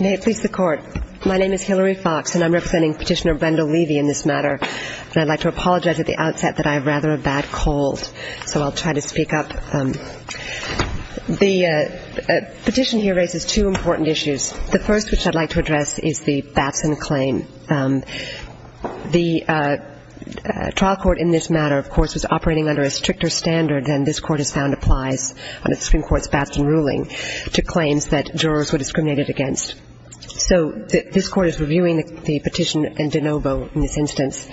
May it please the Court. My name is Hillary Fox and I'm representing Petitioner Brenda Levy in this matter. I'd like to apologize at the outset that I have rather a bad cold, so I'll try to speak up. The petition here raises two important issues. The first, which I'd like to address, is the Batson claim. The trial court in this matter, of course, is operating under a stricter standard, and this Court has found applies on the Supreme Court's Batson ruling to claims that jurors were discriminated against. So this Court is reviewing the petition and de novo in this instance.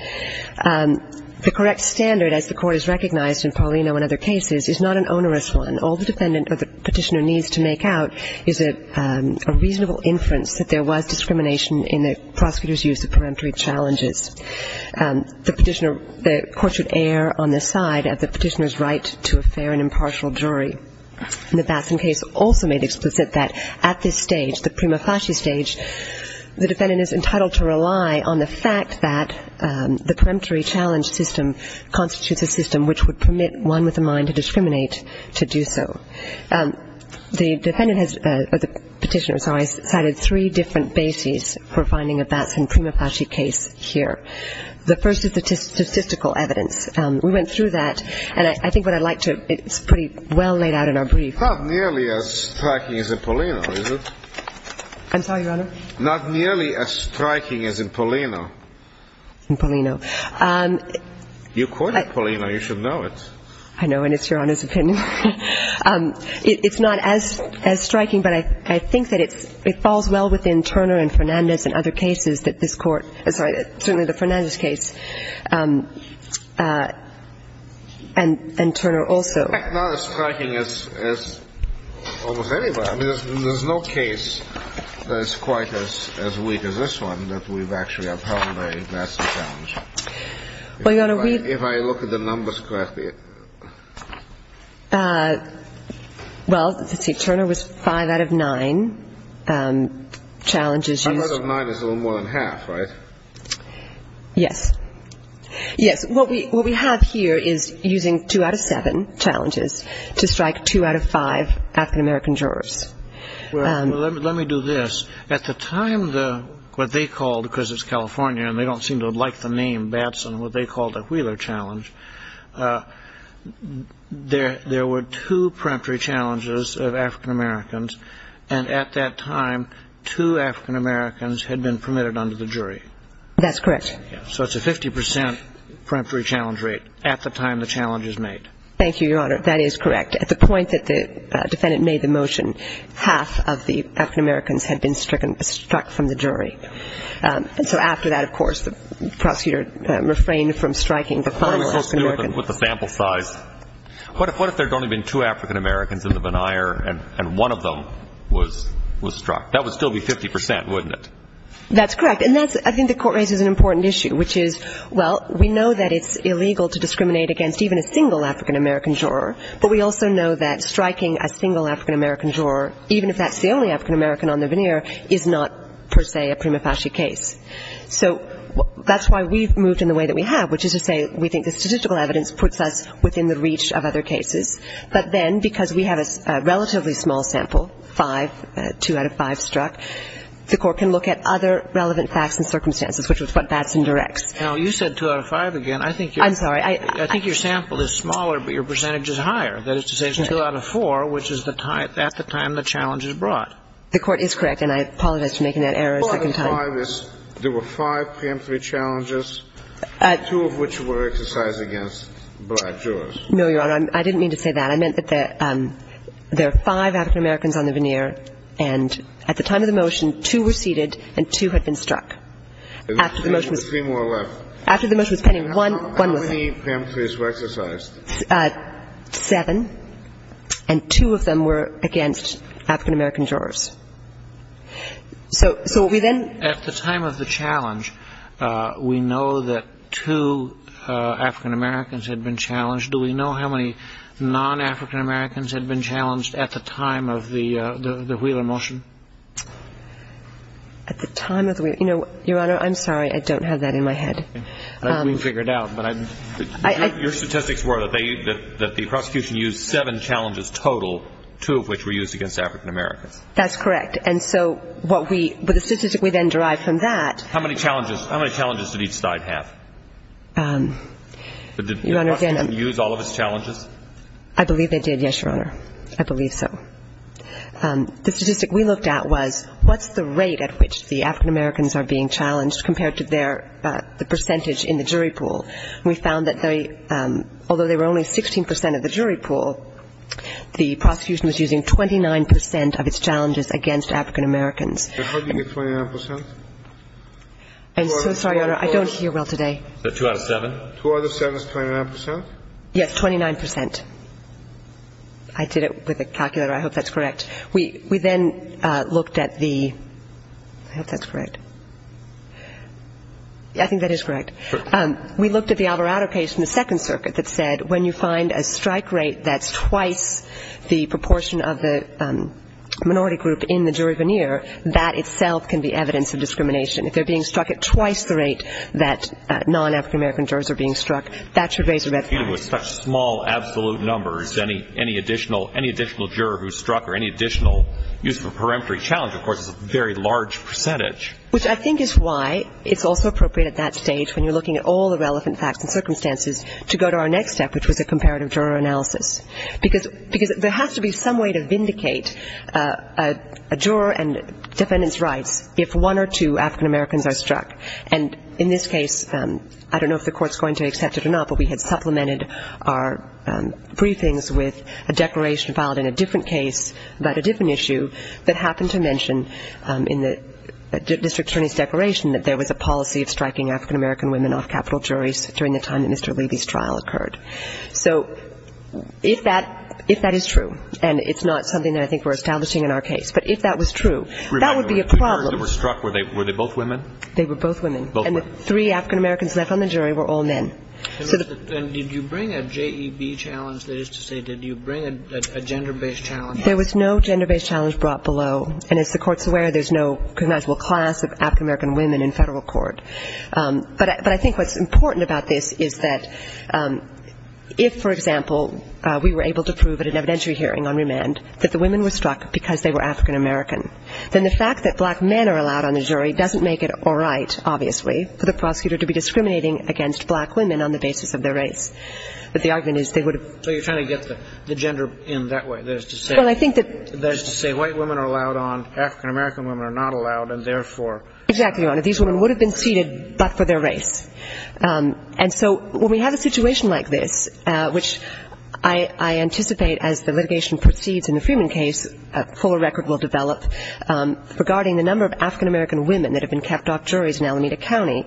The correct standard, as the Court has recognized in Paulino and other cases, is not an onerous one. All the defendant or the petitioner needs to make out is a reasonable inference that there was discrimination in the prosecutor's use of preemptory challenges. The court should err on the side of the petitioner's right to a fair and impartial jury. The Batson case also made explicit that at this stage, the prima facie stage, the defendant is entitled to rely on the fact that the preemptory challenge system constitutes a system which would permit one with a mind to discriminate to do so. The petitioner cited three different bases for finding a Batson prima facie case here. The first is statistical evidence. We went through that, and I think what I'd like to – it's pretty well laid out in our brief. Not nearly as striking as in Paulino, is it? I'm sorry, Your Honor? Not nearly as striking as in Paulino. In Paulino. You courted Paulino. You should know it. I know, and it's Your Honor's opinion. It's not as striking, but I think that it falls well within Turner and Fernandez and other cases that this court – certainly the Fernandez case, and Turner also. Not as striking as almost anywhere. I mean, there's no case that's quite as weak as this one that we've actually had Paulino investigate. Well, Your Honor, we – If I look at the numbers graph here. Well, Turner was five out of nine challenges. Five out of nine is a little more than half, right? Yes. Yes. What we have here is using two out of seven challenges to strike two out of five African-American jurors. Let me do this. At the time, what they called – because it's California and they don't seem to like the name Batson – what they called a Wheeler challenge, there were two preemptory challenges of African-Americans, and at that time, two African-Americans had been permitted under the jury. That's correct. So it's a 50 percent preemptory challenge rate at the time the challenge is made. Thank you, Your Honor. That is correct. At the point that the defendant made the motion, half of the African-Americans had been struck from the jury. And so after that, of course, the prosecutor refrained from striking the final African-American. With the sample size. What if there had only been two African-Americans in the denier and one of them was struck? That would still be 50 percent, wouldn't it? That's correct. And that's – I think the court raises an important issue, which is, well, we know that it's illegal to discriminate against even a single African-American juror, but we also know that striking a single African-American juror, even if that's the only African-American on the denier, is not, per se, a prima facie case. So that's why we've moved in the way that we have, which is to say we think the statistical evidence puts us within the reach of other cases. But then, because we have a relatively small sample, five, two out of five struck, the court can look at other relevant facts and circumstances, which is what Batson directs. You said two out of five again. I'm sorry. I think your sample is smaller, but your percentage is higher. That is to say it's two out of four, which is at the time the challenge is brought. The court is correct, and I apologize for making that error a second time. There were five PM3 challenges, two of which were exercised against black jurors. No, Your Honor. I didn't mean to say that. I meant that there are five African-Americans on the denier, and at the time of the motion, two were seated and two had been struck. Three more left. After the motion was pending, one was left. How many PM3s were exercised? Seven, and two of them were against African-American jurors. So we then ---- At the time of the challenge, we know that two African-Americans had been challenged. Do we know how many non-African-Americans had been challenged at the time of the Wheeler motion? At the time of the Wheeler ---- Your Honor, I'm sorry. I don't have that in my head. I can figure it out, but your statistics were that the prosecution used seven challenges total, two of which were used against African-Americans. That's correct, and so what we ---- But the statistic we then derived from that ---- How many challenges did each side have? Your Honor, again ---- Did the prosecution use all of its challenges? I believe they did, yes, Your Honor. I believe so. The statistic we looked at was what's the rate at which the African-Americans are being challenged compared to their percentage in the jury pool. We found that they, although they were only 16% of the jury pool, the prosecution was using 29% of its challenges against African-Americans. And how do you get 29%? I'm so sorry, Your Honor. I don't hear well today. Two out of seven? Two out of seven is 29%? Yes, 29%. I did it with a calculator. I hope that's correct. We then looked at the ---- I hope that's correct. I think that is correct. Sure. We looked at the Alvarado case in the Second Circuit that said when you find a strike rate that's twice the proportion of the minority group in the jury veneer, that itself can be evidence of discrimination. If they're being struck at twice the rate that non-African-American jurors are being struck, that should raise the ---- With such small absolute numbers, any additional juror who's struck or any additional use of a peremptory challenge, of course, is a very large percentage. Which I think is why it's also appropriate at that stage, when you're looking at all the relevant facts and circumstances, to go to our next step, which was the comparative juror analysis. Because there has to be some way to vindicate a juror and defendant's rights if one or two African-Americans are struck. And in this case, I don't know if the Court's going to accept it or not, but we had complemented our briefings with a declaration filed in a different case about a different issue that happened to mention in the district attorney's declaration that there was a policy of striking African-American women off capital juries during the time that Mr. Leiby's trial occurred. So if that is true, and it's not something that I think we're establishing in our case, but if that was true, that would be a problem. Were they both women? They were both women. And the three African-Americans left on the jury were all men. And did you bring a JEB challenge? That is to say, did you bring a gender-based challenge? There was no gender-based challenge brought below. And as the Court's aware, there's no conventional class of African-American women in federal court. But I think what's important about this is that if, for example, we were able to prove at an evidentiary hearing on remand that the women were struck because they were African-American, then the fact that black men are allowed on the jury doesn't make it all right, obviously, for the prosecutor to be discriminating against black women on the basis of their race. But the argument is they would have... So you're trying to get the gender in that way, that is to say... Well, I think that... That is to say white women are allowed on, African-American women are not allowed, and therefore... Exactly, Your Honor. These women would have been seated but for their race. And so when we have a situation like this, which I anticipate as the litigation proceeds in the Freeman case, a fuller record will develop regarding the number of African-American women that have been kept off juries in Alameda County,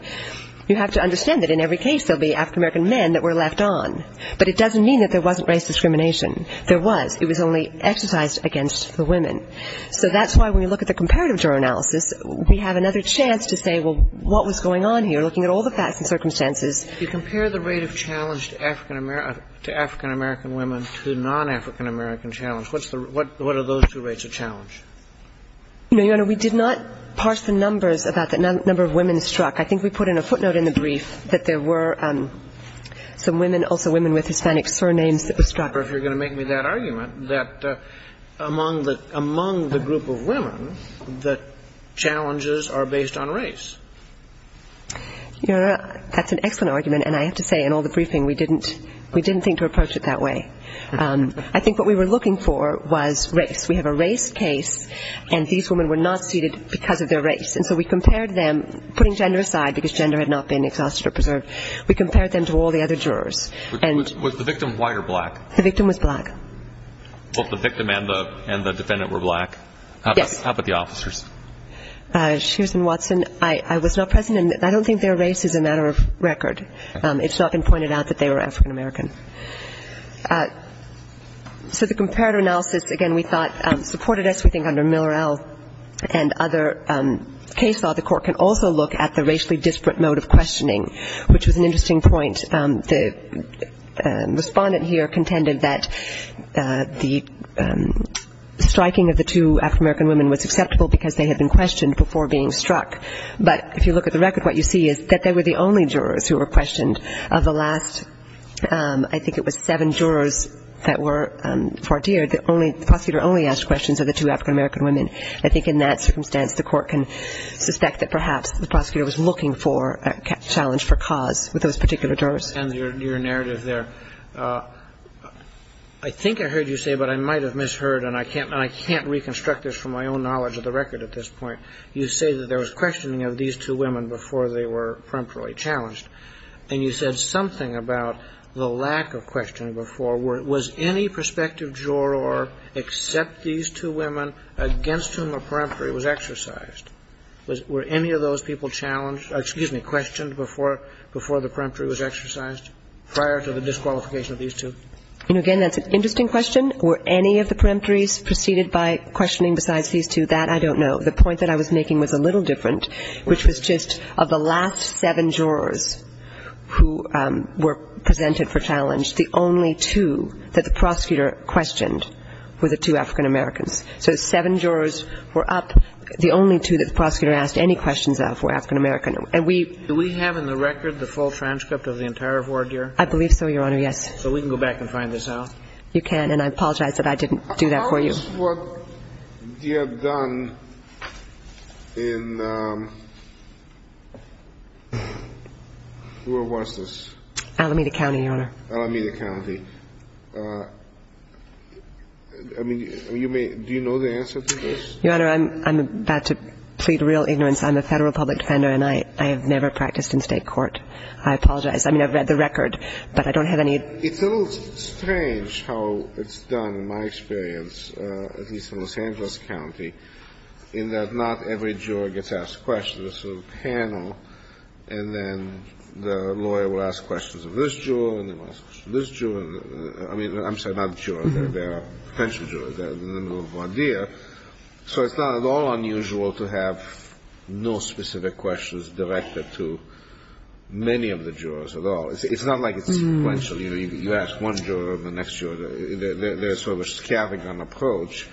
you have to understand that in every case there will be African-American men that were left on. But it doesn't mean that there wasn't race discrimination. There was. It was only exercised against the women. So that's why when we look at the comparative juror analysis, we have another chance to say, well, what was going on here, looking at all the facts and circumstances. If you compare the rate of challenge to African-American women to non-African-American challenge, what are those two rates of challenge? No, Your Honor, we did not parse the numbers about the number of women struck. I think we put in a footnote in the brief that there were some women, also women with Hispanic surnames that were struck. I wonder if you're going to make me that argument, that among the group of women, the challenges are based on race. Your Honor, that's an excellent argument, and I have to say in all the briefing we didn't think to approach it that way. I think what we were looking for was race. We have a race case, and these women were not seated because of their race. And so we compared them, putting gender aside because gender had not been exhausted or preserved, we compared them to all the other jurors. Was the victim white or black? The victim was black. Both the victim and the defendant were black? Yes. How about the officers? Susan Watson, I was not present, and I don't think their race is a matter of record. It's not been pointed out that they were African-American. So the comparative analysis, again, we thought supported us. We think under Millerell and other case law, the court can also look at the racially disparate mode of questioning, which was an interesting point. The respondent here contended that the striking of the two African-American women was susceptible because they had been questioned before being struck. But if you look at the record, what you see is that they were the only jurors who were questioned. Of the last, I think it was seven jurors that were far dear, the prosecutor only asked questions of the two African-American women. I think in that circumstance, the court can suspect that perhaps the prosecutor was looking for a challenge for cause with those particular jurors. And your narrative there. I think I heard you say, but I might have misheard, and I can't reconstruct this from my own knowledge of the record at this point, you say that there was questioning of these two women before they were peremptorily challenged. And you said something about the lack of questioning before. Was any prospective juror, except these two women, against whom the peremptory was exercised? Were any of those people challenged, excuse me, questioned before the peremptory was exercised prior to the disqualification of these two? And again, that's an interesting question. Were any of the peremptories preceded by questioning besides these two? That I don't know. The point that I was making was a little different, which was just of the last seven jurors who were presented for challenge, the only two that the prosecutor questioned were the two African-Americans. So seven jurors were up. The only two that the prosecutor asked any questions of were African-American. Do we have in the record the full transcript of the entire war, dear? I believe so, Your Honor, yes. So we can go back and find this out? You can, and I apologize that I didn't do that for you. This is what you have done in, where was this? Alameda County, Your Honor. Alameda County. I mean, do you know the answer to this? Your Honor, I'm about to plead real ignorance. I'm a federal public defender, and I have never practiced in state court. I apologize. I mean, I've read the record, but I don't have any. It feels strange how it's done, in my experience, at least in Los Angeles County, in that not every juror gets asked questions. It's a panel, and then the lawyer will ask questions of this juror and this juror. I mean, I'm sorry, not the juror. There are potential jurors. So it's not at all unusual to have no specific questions directed to many of the jurors at all. It's not like it's sequential. You ask one juror, the next juror. There's sort of a scavenging approach.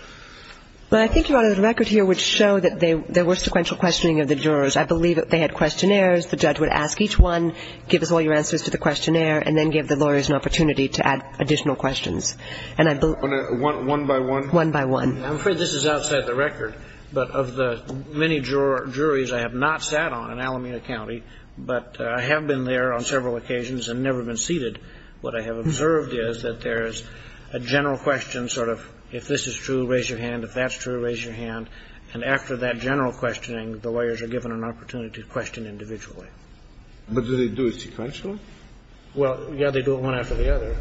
Well, I think, Your Honor, the record here would show that there was sequential questioning of the jurors. I believe that they had questionnaires. The judge would ask each one, give all your answers to the questionnaire, and then give the lawyers an opportunity to add additional questions. One by one? One by one. I'm afraid this is outside the record, but of the many juries I have not sat on in Alameda County, but I have been there on several occasions and never been seated. What I have observed is that there's a general question, sort of, if this is true, raise your hand. If that's true, raise your hand. And after that general questioning, the lawyers are given an opportunity to question individually. But do they do it sequentially? Well, yeah, they do it one after the other.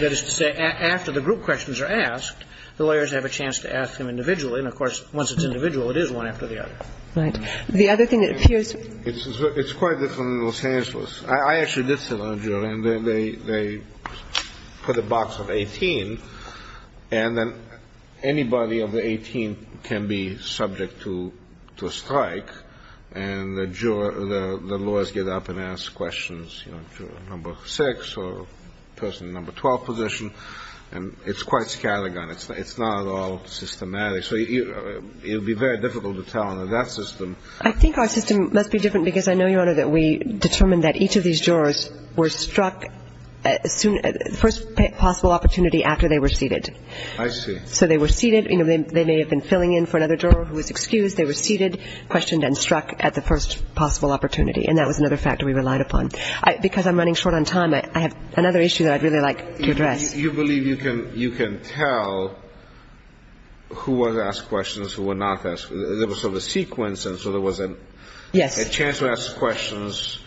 That is to say, after the group questions are asked, the lawyers have a chance to ask them individually. And, of course, once it's individual, it is one after the other. Right. The other thing that appears to me is that it's quite different than Los Angeles was. I actually did sit on a jury, and they put a box of 18, and then anybody over 18 can be subject to a strike, and the lawyers get up and ask questions to a number six or a person in the number 12 position, and it's quite scattergun. It's not all systematic. So it would be very difficult to tell under that system. I think our system must be different because I know, Your Honor, that we determined that each of these jurors were struck at the first possible opportunity after they were seated. I see. So they were seated. They may have been filling in for another juror who was excused. They were seated, questioned, and struck at the first possible opportunity, and that was another factor we relied upon. Because I'm running short on time, I have another issue that I'd really like to address. You believe you can tell who was asked questions and who was not asked questions. There was sort of a sequence, and so there was a chance to ask questions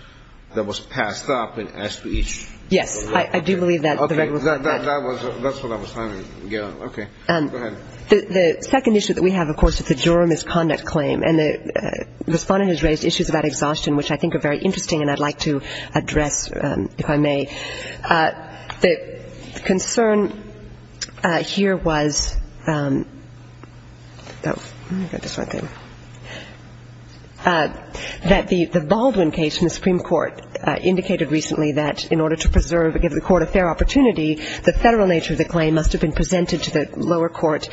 that was passed up and asked to each. Yes, I do believe that. Okay, that's what I was trying to get at. Okay, go ahead. The second issue that we have, of course, is the juror misconduct claim, and the respondent has raised issues about exhaustion, which I think are very interesting and I'd like to address if I may. The concern here was that the Baldwin case in the Supreme Court indicated recently that in order to preserve or give the court a fair opportunity, the federal nature of the claim must have been presented to the lower court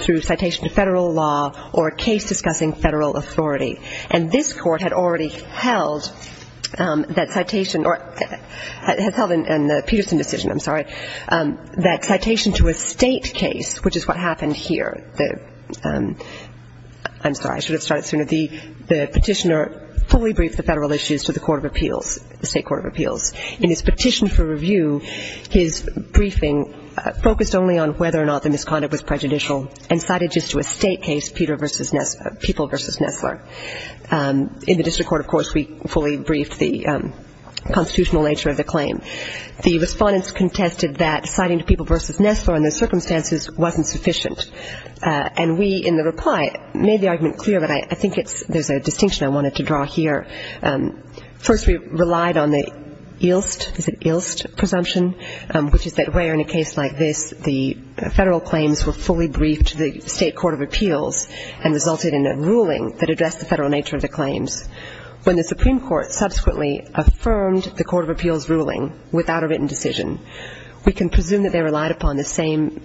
through citation to federal law or a case discussing federal authority. And this court had already held that citation, or has held in the Peterson decision, I'm sorry, that citation to a state case, which is what happened here. I'm sorry, I should have started sooner. The petitioner fully briefed the federal issues to the court of appeals, the state court of appeals. In his petition for review, his briefing focused only on whether or not the misconduct was prejudicial and cited just to a state case, People v. Nestler. In the district court, of course, we fully briefed the constitutional nature of the claim. The respondents contested that citing to People v. Nestler in those circumstances wasn't sufficient. And we, in the reply, made the argument clear, but I think there's a distinction I wanted to draw here. First, we relied on the Ilst, is it Ilst, presumption, which is that where in a case like this the federal claims were fully briefed to the state court of appeals and resulted in a ruling that addressed the federal nature of the claims. When the Supreme Court subsequently affirmed the court of appeals ruling without a written decision, we can presume that they relied upon the same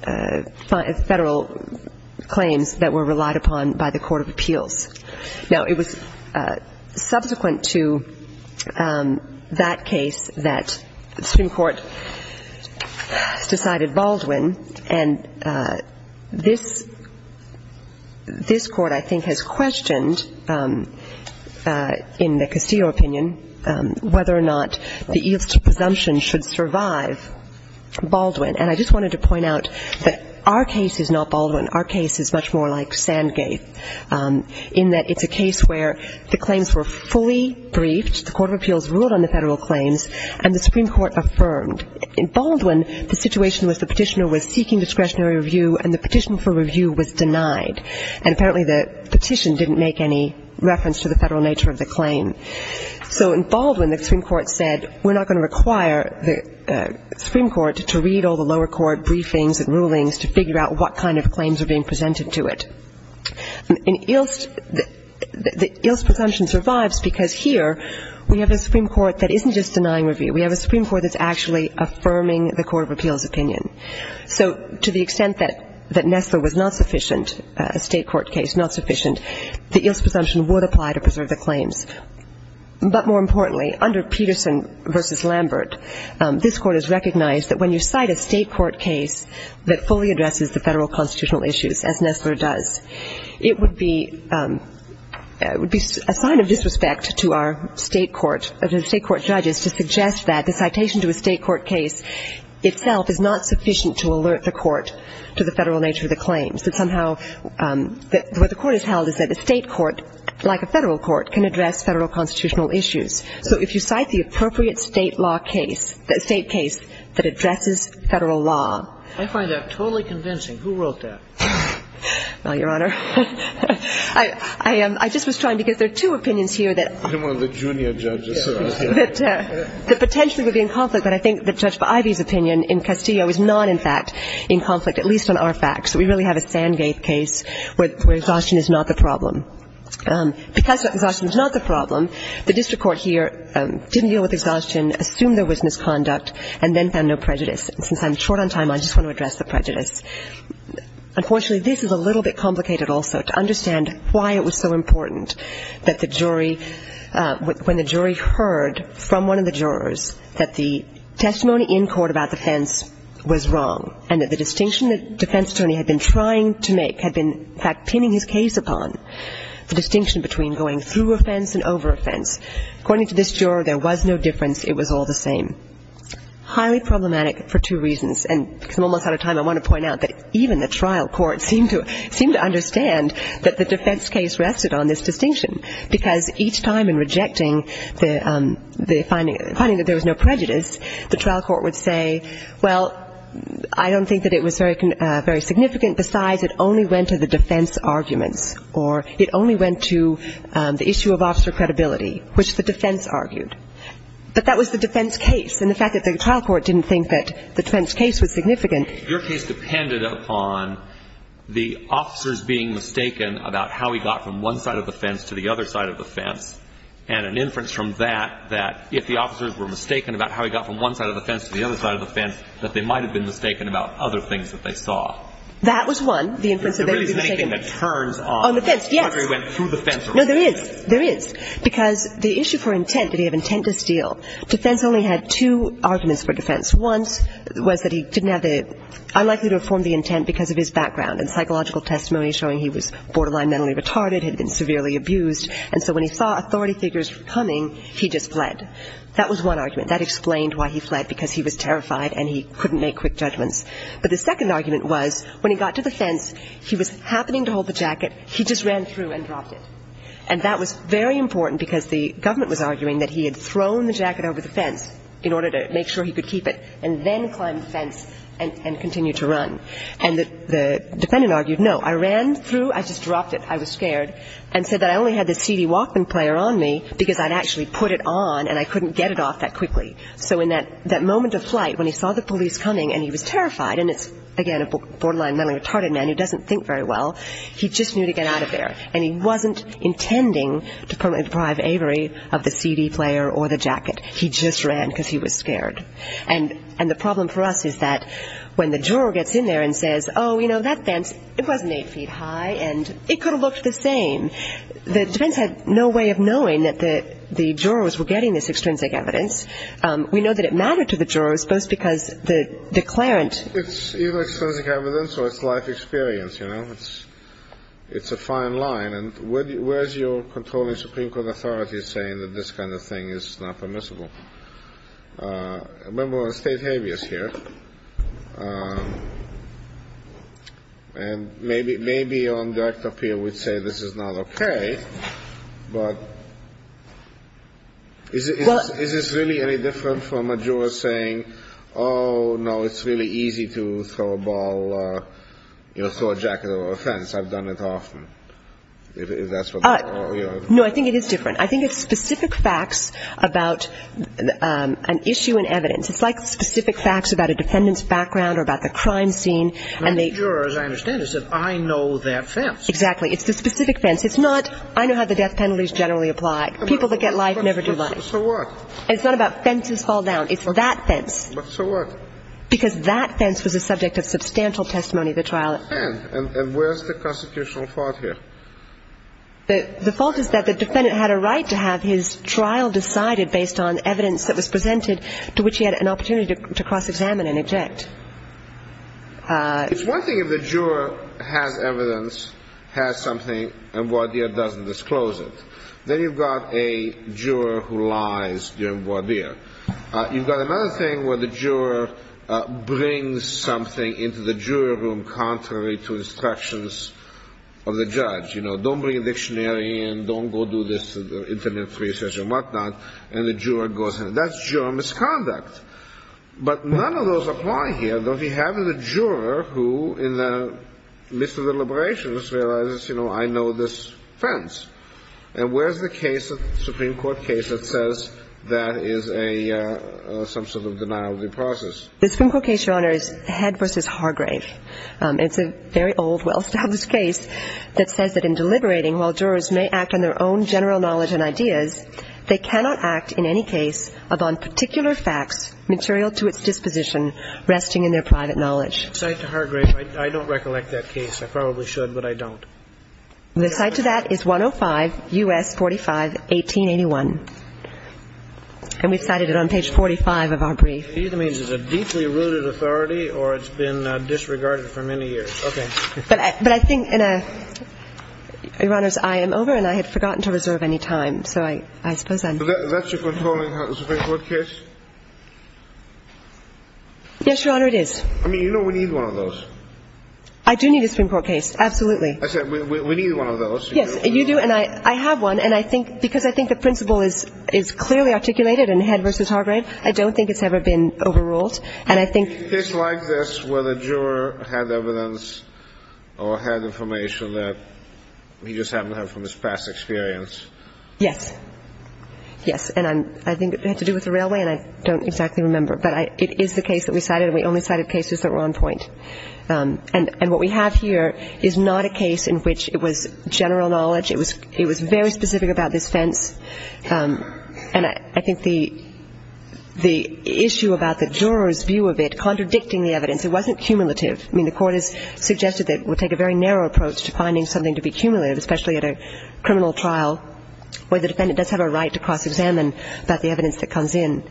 federal claims that were relied upon by the court of appeals. Now, it was subsequent to that case that the Supreme Court decided Baldwin, and this court, I think, has questioned in the Casillo opinion whether or not the Ilst presumption should survive Baldwin. And I just wanted to point out that our case is not Baldwin. Our case is much more like Sandgate in that it's a case where the claims were fully briefed, the court of appeals ruled on the federal claims, and the Supreme Court affirmed. In Baldwin, the situation was the petitioner was seeking discretionary review, and the petition for review was denied. And apparently the petition didn't make any reference to the federal nature of the claim. So in Baldwin, the Supreme Court said, we're not going to require the Supreme Court to read all the lower court briefings and rulings to figure out what kind of claims are being presented to it. And the Ilst presumption survives because here we have a Supreme Court that isn't just denying review. We have a Supreme Court that's actually affirming the court of appeals opinion. So to the extent that NIFA was not sufficient, a state court case not sufficient, the Ilst presumption would apply to preserve the claims. But more importantly, under Peterson v. Lambert, this court has recognized that when you cite a state court case that fully addresses the federal constitutional issues, as NIFA does, it would be a sign of disrespect to our state court judges to suggest that the citation to a state court case itself is not sufficient to alert the court to the federal nature of the claims. What the court has held is that a state court, like a federal court, can address federal constitutional issues. So if you cite the appropriate state law case, a state case that addresses federal law. I find that totally convincing. Who wrote that? Your Honor, I just was trying to get the two opinions here. One of the junior judges. The potential would be in conflict. But I think the judge for Ivey's opinion in Castillo is not, in fact, in conflict, at least on our facts. We really have a Sandgate case where exhaustion is not the problem. Because exhaustion is not the problem, the district court here didn't deal with exhaustion, assumed there was misconduct, and then found no prejudice. Since I'm short on time, I just want to address the prejudice. Unfortunately, this is a little bit complicated also to understand why it was so important that the jury, when the jury heard from one of the jurors that the testimony in court about defense was wrong and that the distinction that the defense attorney had been trying to make had been, in fact, pinning his case upon the distinction between going through offense and over offense. According to this juror, there was no difference. It was all the same. Highly problematic for two reasons. And I'm almost out of time. I want to point out that even the trial court seemed to understand that the defense case rested on this distinction. Because each time in rejecting the finding that there was no prejudice, the trial court would say, well, I don't think that it was very significant. Besides, it only went to the defense argument. Or it only went to the issue of officer credibility, which the defense argued. But that was the defense case. And the fact that the trial court didn't think that the defense case was significant. Your case depended upon the officers being mistaken about how he got from one side of the fence to the other side of the fence. And an inference from that, that if the officers were mistaken about how he got from one side of the fence to the other side of the fence, that they might have been mistaken about other things that they saw. That was one. The inference that they should be mistaken. On the fence, yes. No, there is. There is. Because the issue for intent, did he have intent to steal? Defense only had two arguments for defense. One was that he didn't have a, unlikely to have formed the intent because of his background and psychological testimony showing he was borderline mentally retarded, had been severely abused. And so when he saw authority figures coming, he just fled. That was one argument. That explained why he fled, because he was terrified and he couldn't make quick judgments. But the second argument was when he got to the fence, he was happening to hold the jacket. He just ran through and dropped it. And that was very important because the government was arguing that he had thrown the jacket over the fence in order to make sure he could keep it and then climb the fence and continue to run. And the defendant argued, no, I ran through. I just dropped it. I was scared and said that I only had the CD Walkman player on me because I'd actually put it on and I couldn't get it off that quickly. So in that moment of flight when he saw the police coming and he was terrified, and it's, again, a borderline mentally retarded man who doesn't think very well, he just knew to get out of there. And he wasn't intending to permanently deprive Avery of the CD player or the jacket. He just ran because he was scared. And the problem for us is that when the juror gets in there and says, oh, you know, that fence, it wasn't eight feet high and it could have looked the same, the defense had no way of knowing that the jurors were getting this extrinsic evidence. We know that it mattered to the jurors both because the declarant It's either extrinsic evidence or it's life experience, you know. It's a fine line. And where is your controlling Supreme Court authority saying that this kind of thing is not permissible? A member of the state maybe is here. And maybe on deck up here would say this is not okay, but is this really any different from a juror saying, oh, no, it's really easy to throw a ball, you know, throw a jacket over a fence. I've done it often. No, I think it is different. I think it's specific facts about an issue in evidence. It's like specific facts about a defendant's background or about the crime scene. And the juror, as I understand it, said I know that fence. Exactly. It's the specific fence. It's not I know how the death penalty is generally applied. People that get life never do life. So what? It's not about fences fall down. It's that fence. But so what? Because that fence was the subject of substantial testimony at the trial. And where is the constitutional fault here? The fault is that the defendant had a right to have his trial decided based on evidence that was presented to which he had an opportunity to cross-examine and object. It's one thing if the juror has evidence, has something, and Wardier doesn't disclose it. Then you've got a juror who lies during Wardier. You've got another thing where the juror brings something into the juror room contrary to instructions of the judge. You know, don't bring a dictionary in. Don't go do this internet research and whatnot. And the juror goes in. That's juror misconduct. But none of those apply here. We have the juror who, in the midst of deliberations, realizes, you know, I know this fence. And where is the case of the Supreme Court case that says that is an assumption of denial of due process? The Supreme Court case you're on is Head v. Hargrave. It's a very old, well-established case that says that in deliberating, while jurors may act on their own general knowledge and ideas, they cannot act in any case upon particular facts material to its disposition resting in their private knowledge. Aside to Hargrave, I don't recollect that case. I probably should, but I don't. Aside to that is 105 U.S. 45, 1881. And we cited it on page 45 of our brief. It either means it's a deeply rooted authority or it's been disregarded for many years. Okay. But I think, Your Honors, I am over and I had forgotten to reserve any time. So I suppose I'm... Is that the Supreme Court case? Yes, Your Honor, it is. I mean, you know we need one of those. I do need a Supreme Court case. Absolutely. We need one of those. Yes, you do, and I have one. And I think because I think the principle is clearly articulated in Head v. Hargrave, I don't think it's ever been overruled. And I think... A case like this where the juror had evidence or had information that he just happened to have from his past experience. Yes. Yes. And I think it had to do with the railway, and I don't exactly remember. But it is the case that we cited. We only cited cases that were on point. And what we have here is not a case in which it was general knowledge. It was very specific about this sense. And I think the issue about the juror's view of it contradicting the evidence, it wasn't cumulative. I mean, the court has suggested that it would take a very narrow approach to finding something to be cumulative, especially at a criminal trial where the defendant does have a right to cross-examine about the evidence that comes in.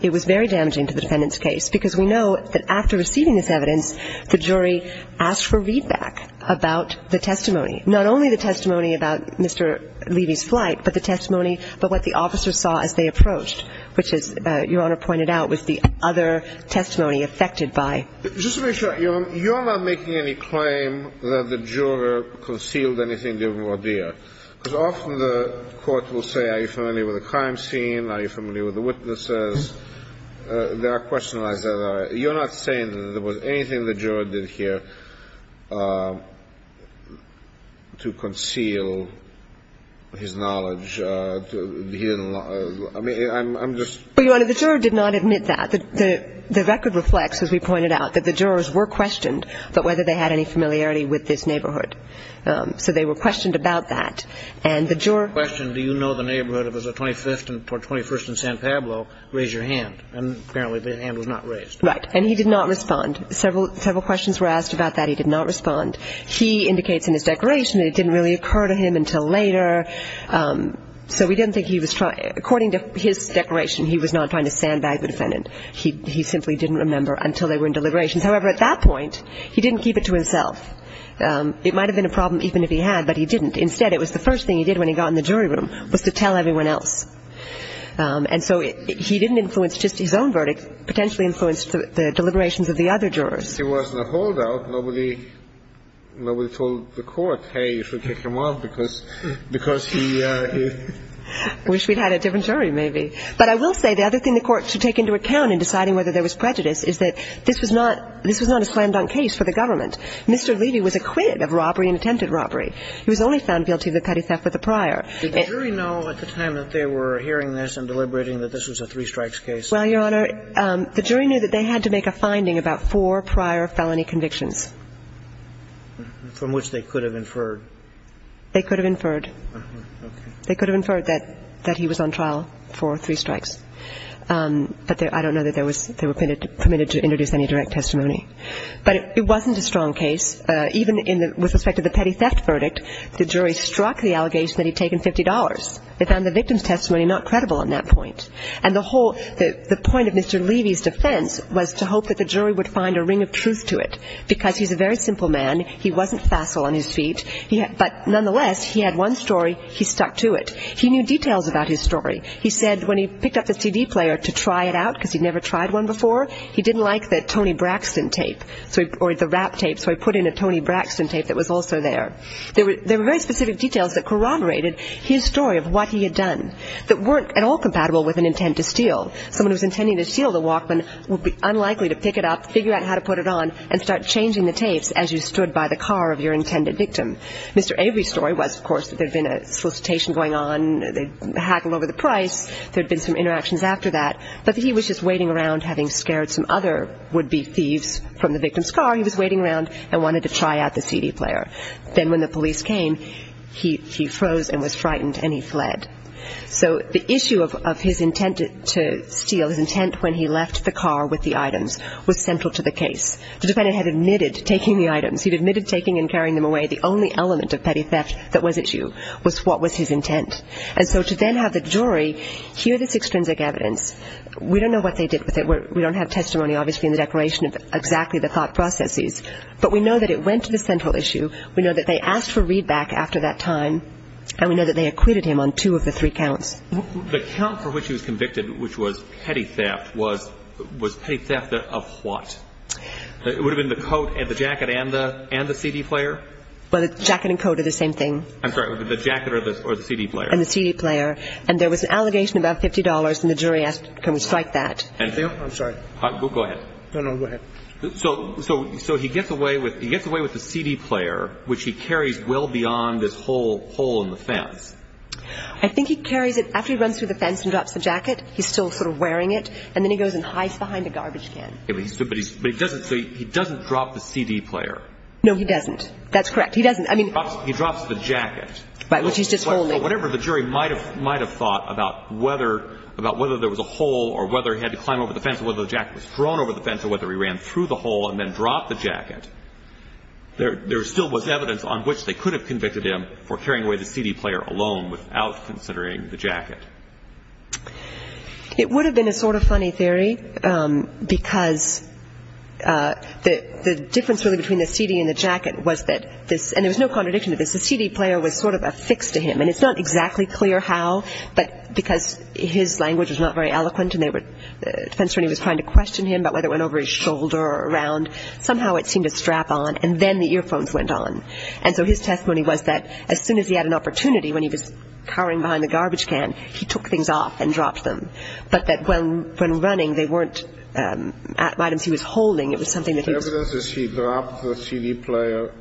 It was very damaging to the defendant's case because we know that after receiving this evidence, the jury asked for readback about the testimony. Not only the testimony about Mr. Levy's flight, but the testimony, but what the officers saw as they approached, which, as Your Honor pointed out, was the other testimony affected by... Just to make sure, you're not making any claim that the juror concealed anything, did he, or did he not? Because often the court will say, are you familiar with the crime scene? Are you familiar with the witnesses? There are questions like that. You're not saying that there was anything the juror did here to conceal his knowledge. I mean, I'm just... Well, Your Honor, the juror did not admit that. The record reflects, as we pointed out, that the jurors were questioned about whether they had any familiarity with this neighborhood. So they were questioned about that, and the juror... The question, do you know the neighborhood? It was the 25th or 21st in San Pablo. Raise your hand. And apparently the hand was not raised. Right, and he did not respond. Several questions were asked about that. He did not respond. He indicates in his declaration that it didn't really occur to him until later. So we don't think he was trying... According to his declaration, he was not trying to sandbag the defendant. He simply didn't remember until they were in deliberation. However, at that point, he didn't keep it to himself. It might have been a problem even if he had, but he didn't. Instead, it was the first thing he did when he got in the jury room was to tell everyone else. And so he didn't influence just his own verdict. He potentially influenced the deliberations of the other jurors. If he wasn't a holdout, nobody told the court, hey, you should take him off because he... I wish we'd had a different jury, maybe. But I will say the other thing the court should take into account in deciding whether there was prejudice is that this was not a signed-on case for the government. Mr. Levy was acquitted of robbery and attempted robbery. He was only found guilty of the petty theft with the prior. Did the jury know at the time that they were hearing this and deliberating that this was a three strikes case? Well, Your Honor, the jury knew that they had to make a finding about four prior felony convictions. From which they could have inferred. They could have inferred. They could have inferred that he was on trial for three strikes. But I don't know that they were permitted to introduce any direct testimony. But it wasn't a strong case. Even with respect to the petty theft verdict, the jury struck the allegation that he'd taken $50. But then the victim's testimony, not credible on that point. And the whole point of Mr. Levy's defense was to hope that the jury would find a ring of truth to it. Because he's a very simple man. He wasn't facile on his feet. But nonetheless, he had one story. He stuck to it. He knew details about his story. He said when he picked up the CD player to try it out because he'd never tried one before, he didn't like the Tony Braxton tape or the rap tape, so he put in a Tony Braxton tape that was also there. There were very specific details that corroborated his story of what he had done that weren't at all compatible with an intent to steal. Someone who was intending to steal the Walkman would be unlikely to pick it up, figure out how to put it on, and start changing the tapes as you stood by the car of your intended victim. Mr. Avery's story was, of course, that there'd been a solicitation going on. They'd hacked him over the price. There'd been some interactions after that. But he was just waiting around, having scared some other would-be thieves from the victim's car. He was waiting around and wanted to try out the CD player. Then when the police came, he froze and was frightened, and he fled. So the issue of his intent to steal, his intent when he left the car with the items, was central to the case. The defendant had admitted taking the items. He'd admitted taking and carrying them away. The only element of petty theft that was at you was what was his intent. And so to then have the jury hear this extrinsic evidence, we don't know what they did with it. We don't have testimony, obviously, in the declaration of exactly the thought processes. But we know that it went to the central issue. We know that they asked for readback after that time, and we know that they acquitted him on two of the three counts. The count for which he was convicted, which was petty theft, was petty theft of what? It would have been the coat and the jacket and the CD player? Well, the jacket and coat are the same thing. I'm sorry, the jacket or the CD player. And the CD player. And there was an allegation about $50, and the jury asked to cite that. I'm sorry. Go ahead. No, no, go ahead. So he gets away with the CD player, which he carries well beyond this hole in the fence. I think he carries it after he runs through the fence and drops the jacket. He's still sort of wearing it, and then he goes and hides behind the garbage can. But he doesn't drop the CD player. No, he doesn't. That's correct. He drops the jacket. But he's just holding it. Whatever the jury might have thought about whether there was a hole or whether he had to climb over the fence or whether the jacket was thrown over the fence or whether he ran through the hole and then dropped the jacket, there still was evidence on which they could have convicted him for carrying away the CD player alone without considering the jacket. It would have been a sort of funny theory because the difference really between the CD and the jacket was that, and there was no contradiction to this, the CD player was sort of affixed to him, and it's not exactly clear how, but because his language was not very eloquent, it depends on when he was trying to question him about whether it went over his shoulder or around, somehow it seemed to strap on, and then the earphones went on. And so his testimony was that as soon as he had an opportunity, when he was carrying behind the garbage can, he took things off and dropped them, but that when running, they weren't items he was holding. The evidence is he dropped the CD player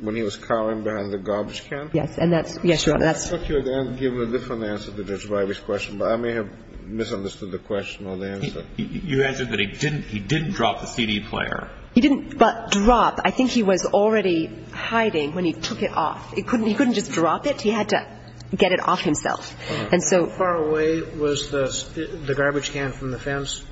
when he was carrying behind the garbage can? Yes. I thought you had given a different answer to Judge Wybie's question, but I may have misunderstood the question or the answer. You answered that he didn't drop the CD player. He didn't drop. I think he was already hiding when he took it off. He couldn't just drop it. He had to get it off himself. How far away was the garbage can from the fence?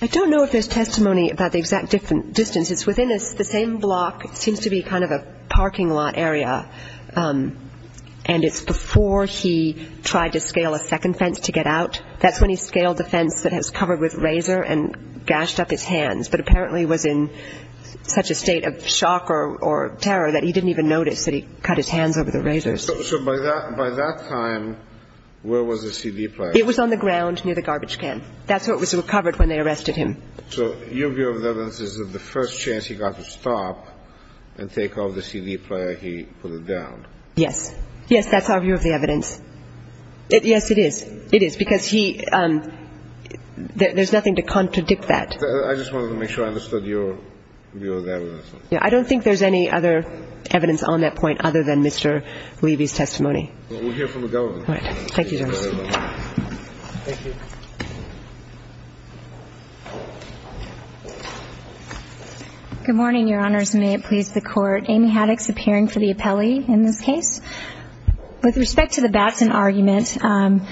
I don't know if there's testimony about the exact distance. It's within the same block, seems to be kind of a parking lot area, and it's before he tried to scale a second fence to get out. That's when he scaled the fence that was covered with razor and gashed up his hands, but apparently was in such a state of shock or terror that he didn't even notice that he cut his hands over the razor. So by that time, where was the CD player? It was on the ground near the garbage can. That's where it was recovered when they arrested him. So your view of the evidence is that the first chance he got to stop and take off the CD player, he put it down? Yes. Yes, that's our view of the evidence. Yes, it is. It is, because there's nothing to contradict that. I just wanted to make sure I understood your view of the evidence. I don't think there's any other evidence on that point other than Mr. Levy's testimony. We'll hear from the government. Thank you, Your Honor. Good morning, Your Honors, and may it please the Court. Amy Haddix, appearing for the appellee in this case. With respect to the Batson argument, an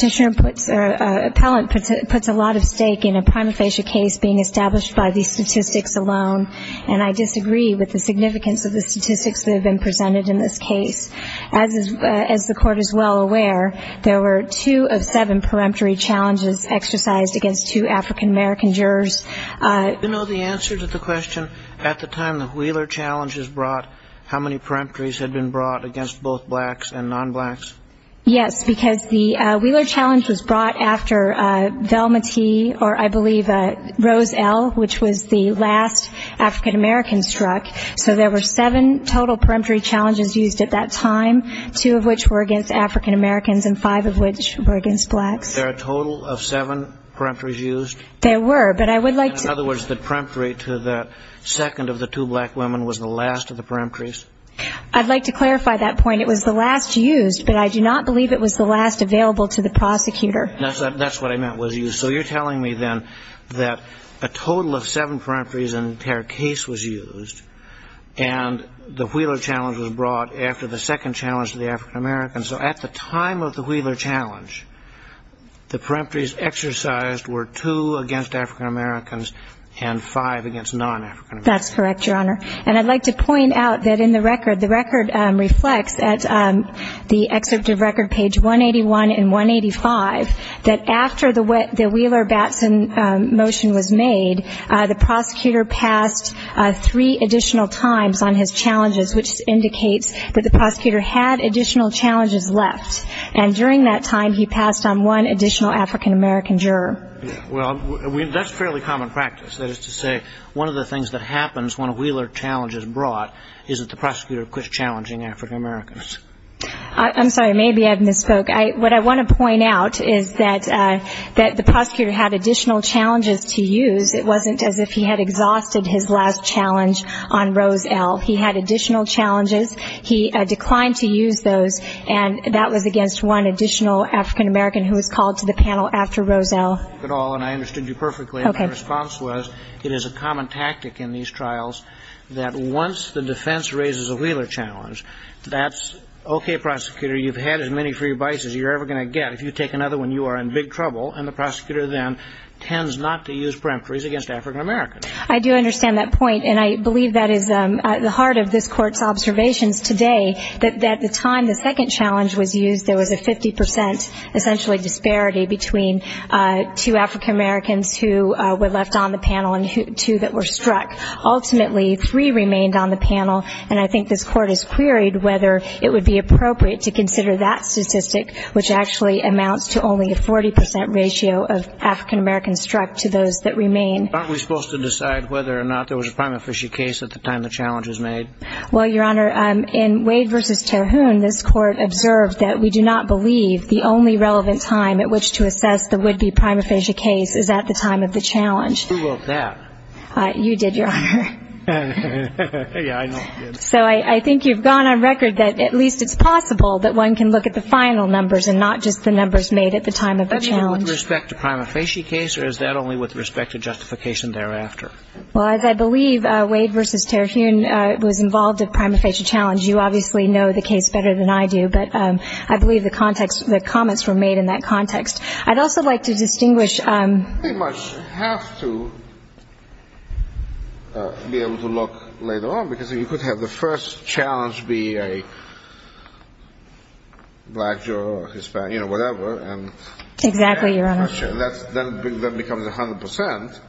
appellant puts a lot at stake in a prima facie case being established by these statistics alone, and I disagree with the significance of the statistics that have been presented in this case. As the Court is well aware, there were two of seven peremptory challenges exercised against two African-American jurors. Do you know the answer to the question? At the time the Wheeler challenge was brought, how many peremptories had been brought against both blacks and non-blacks? Yes, because the Wheeler challenge was brought after Velma T., or I believe Rose L., which was the last African-American struck. So there were seven total peremptory challenges used at that time, two of which were against African-Americans and five of which were against blacks. There are a total of seven peremptories used? There were, but I would like to... In other words, the peremptory to the second of the two black women was the last of the peremptories? I'd like to clarify that point. It was the last used, but I do not believe it was the last available to the prosecutor. That's what I meant, was used. So you're telling me, then, that a total of seven peremptories in their case was used and the Wheeler challenge was brought after the second challenge to the African-Americans. So at the time of the Wheeler challenge, the peremptories exercised were two against African-Americans and five against non-African-Americans. That's correct, Your Honor. And I'd like to point out that in the record, the record reflects, at the exit to record page 181 and 185, that after the Wheeler-Batson motion was made, the prosecutor passed three additional times on his challenges, which indicates that the prosecutor had additional challenges left. And during that time, he passed on one additional African-American juror. Well, that's fairly common practice. That is to say, one of the things that happens when a Wheeler challenge is brought is that the prosecutor quits challenging African-Americans. I'm sorry. Maybe I've misspoke. What I want to point out is that the prosecutor had additional challenges to use. It wasn't as if he had exhausted his last challenge on Rose-L. He had additional challenges. He declined to use those, and that was against one additional African-American who was called to the panel after Rose-L. And I understood you perfectly. Okay. It is a common tactic in these trials that once the defense raises a Wheeler challenge, that's okay, prosecutor. You've had as many free bites as you're ever going to get. If you take another one, you are in big trouble, and the prosecutor then tends not to use peremptories against African-Americans. I do understand that point, and I believe that is at the heart of this court's observations today, that at the time the second challenge was used, there was a 50% essentially disparity between two African-Americans who were left on the panel and two that were struck. Ultimately, three remained on the panel, and I think this court has queried whether it would be appropriate to consider that statistic, which actually amounts to only a 40% ratio of African-Americans struck to those that remain. Aren't we supposed to decide whether or not there was a prima facie case at the time the challenge was made? Well, Your Honor, in Wade v. Carhoon, this court observed that we do not believe the only relevant time at which to assess the would-be prima facie case is at the time of the challenge. Who wrote that? You did, Your Honor. So I think you've gone on record that at least it's possible that one can look at the final numbers and not just the numbers made at the time of the challenge. Is that only with respect to prima facie case, or is that only with respect to justification thereafter? Well, as I believe Wade v. Carhoon was involved with prima facie challenge, you obviously know the case better than I do, but I believe the comments were made in that context. I'd also like to distinguish. You pretty much have to be able to look later on, because if you could have the first challenge be a black, Jewish, Hispanic, you know, whatever. Exactly, Your Honor. That becomes 100%.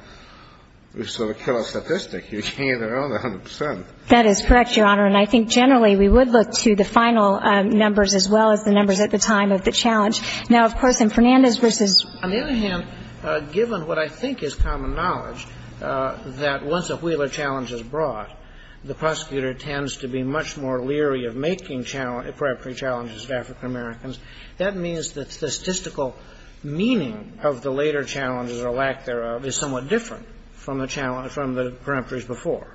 It's sort of a killer statistic. You're hanging around 100%. That is correct, Your Honor, and I think generally we would look to the final numbers as well as the numbers at the time of the challenge. Now, of course, in Fernandez's instance. On the other hand, given what I think is common knowledge, that once a Wheeler challenge is brought, the prosecutor tends to be much more leery of making preemptory challenges to African Americans. That means that the statistical meaning of the later challenges or lack thereof is somewhat different from the preemptories before.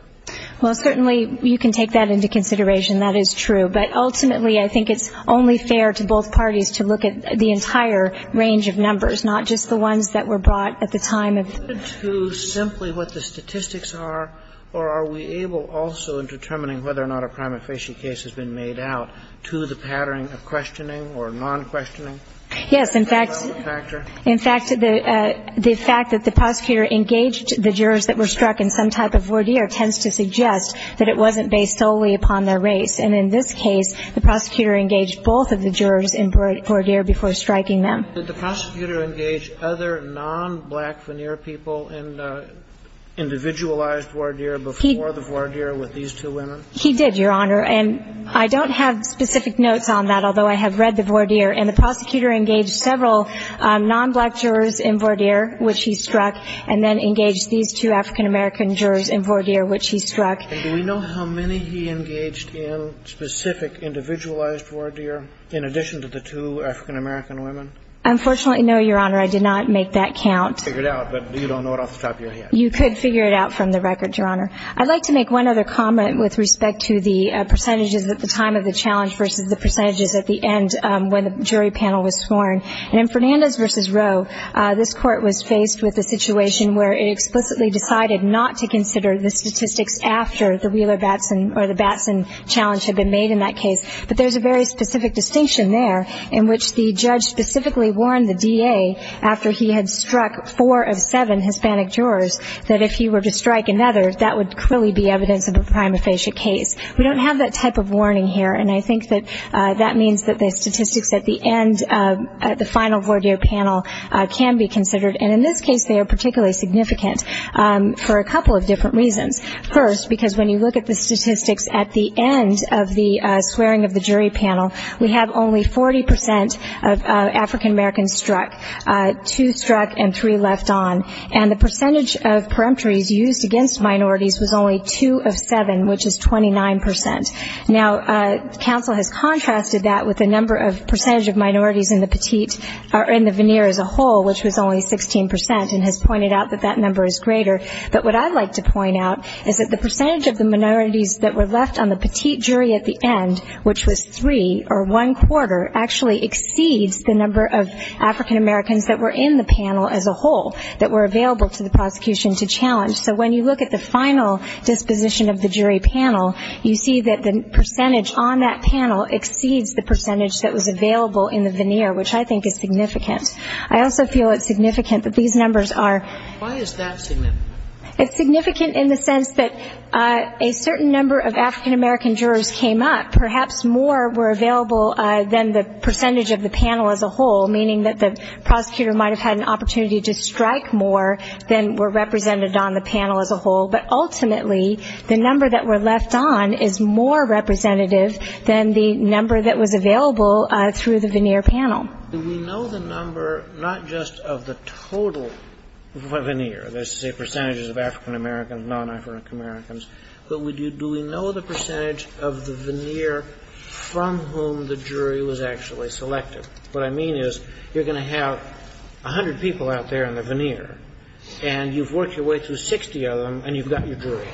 Well, certainly you can take that into consideration. That is true. But ultimately I think it's only fair to both parties to look at the entire range of numbers, not just the ones that were brought at the time of the challenge. To simply what the statistics are, or are we able also in determining whether or not a crime efficiency case has been made out, to the pattern of questioning or non-questioning? Yes. In fact, the fact that the prosecutor engaged the jurors that were struck in some type of worthy tends to suggest that it wasn't based solely upon their race. And in this case, the prosecutor engaged both of the jurors in voir dire before striking them. Did the prosecutor engage other non-black veneer people in the individualized voir dire before the voir dire with these two women? He did, Your Honor. And I don't have specific notes on that, although I have read the voir dire. And the prosecutor engaged several non-black jurors in voir dire, which he struck, and then engaged these two African-American jurors in voir dire, which he struck. Do we know how many he engaged in specific individualized voir dire in addition to the two African-American women? Unfortunately, no, Your Honor. I did not make that count. Figure it out, but you don't know it off the top of your head. You could figure it out from the record, Your Honor. I'd like to make one other comment with respect to the percentages at the time of the challenge versus the percentages at the end when the jury panel was sworn. And in Fernandez v. Roe, this court was faced with a situation where it explicitly decided not to consider the statistics after the Wheeler-Batson or the Batson challenge had been made in that case. But there's a very specific distinction there in which the judge specifically warned the VA after he had struck four of seven Hispanic jurors that if he were to strike another, that would clearly be evidence of a prima facie case. We don't have that type of warning here, and I think that that means that the statistics at the end of the final voir dire panel can be considered. And in this case, they are particularly significant for a couple of different reasons. First, because when you look at the statistics at the end of the swearing of the jury panel, we have only 40% of African-Americans struck, two struck and three left on. And the percentage of peremptories used against minorities was only two of seven, which is 29%. Now, counsel has contrasted that with the number of percentage of minorities in the petite or in the veneer as a whole, which was only 16%, and has pointed out that that number is greater. But what I'd like to point out is that the percentage of the minorities that were left on the petite jury at the end, which was three or one quarter, actually exceeds the number of African-Americans that were in the panel as a whole that were available to the prosecution to challenge. So when you look at the final disposition of the jury panel, you see that the percentage on that panel exceeds the percentage that was available in the veneer, which I think is significant. I also feel it's significant that these numbers are. Why is that significant? It's significant in the sense that a certain number of African-American jurors came up, perhaps more were available than the percentage of the panel as a whole, meaning that the prosecutor might have had an opportunity to strike more than were represented on the panel as a whole, but ultimately the number that were left on is more representative than the number that was available through the veneer panel. Do we know the number not just of the total veneer, that is to say percentages of African-Americans, non-African-Americans, but do we know the percentage of the veneer from whom the jury was actually selected? What I mean is you're going to have 100 people out there in the veneer, and you've worked your way through 60 of them, and you've got your jury.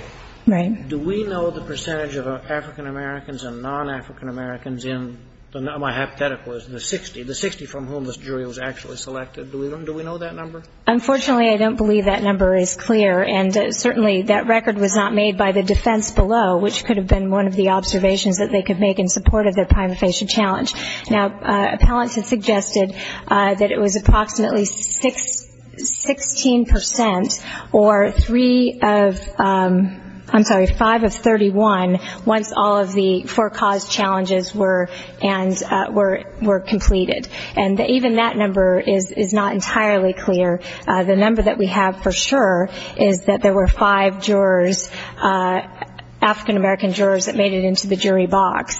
Right. Do we know the percentage of African-Americans and non-African-Americans in, my hypothetical is in the 60, the 60 from whom this jury was actually selected? Do we know that number? Unfortunately, I don't believe that number is clear, and certainly that record was not made by the defense below, which could have been one of the observations that they could make in support of the Time of Patient Challenge. Now, appellants have suggested that it was approximately 16 percent or three of, I'm sorry, five of 31 once all of the four cause challenges were completed. And even that number is not entirely clear. The number that we have for sure is that there were five jurors, African-American jurors, that made it into the jury box,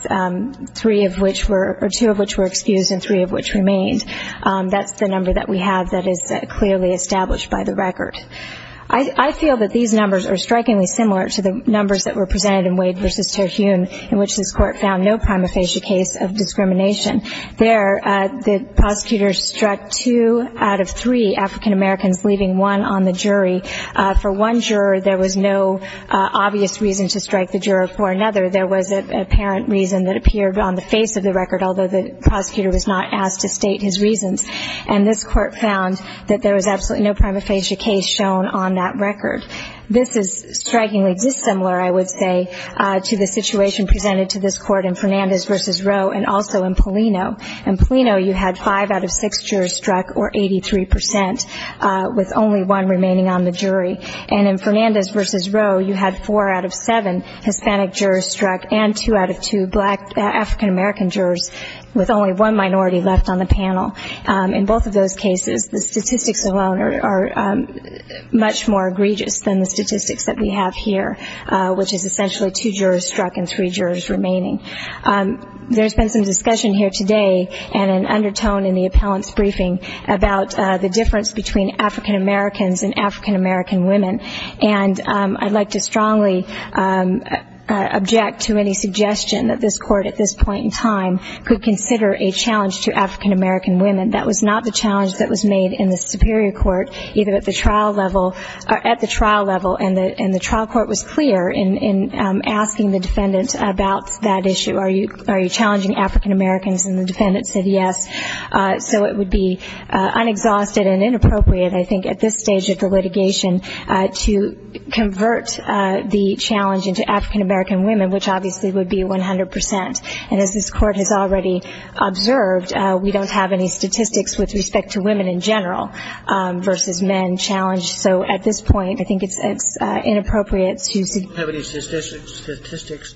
three of which were, or two of which were excused and three of which remained. That's the number that we have that is clearly established by the record. I feel that these numbers are strikingly similar to the numbers that were presented in Wade versus Terhune, in which this court found no prima facie case of discrimination. There, the prosecutors struck two out of three African-Americans, leaving one on the jury. For one juror, there was no obvious reason to strike the juror. For another, there was an apparent reason that appeared on the face of the record, although the prosecutor was not asked to state his reasons. And this court found that there was absolutely no prima facie case shown on that record. This is strikingly dissimilar, I would say, to the situation presented to this court in Fernandez versus Rowe and also in Polino. In Polino, you had five out of six jurors struck, or 83 percent, with only one remaining on the jury. And in Fernandez versus Rowe, you had four out of seven Hispanic jurors struck and two out of two African-American jurors with only one minority left on the panel. In both of those cases, the statistics alone are much more egregious than the statistics that we have here, which is essentially two jurors struck and three jurors remaining. There's been some discussion here today and an undertone in the appellant's briefing about the difference between African-Americans and African-American women. And I'd like to strongly object to any suggestion that this court at this point in time could consider a challenge to African-American women. That was not the challenge that was made in the superior court, either at the trial level. And the trial court was clear in asking the defendant about that issue. Are you challenging African-Americans? And the defendant said yes. So it would be unexhausted and inappropriate, I think, at this stage of the litigation to convert the challenge into African-American women, which obviously would be 100 percent. And as this court has already observed, we don't have any statistics with respect to women in general versus men challenged. So at this point, I think it's inappropriate to- Do you have any statistics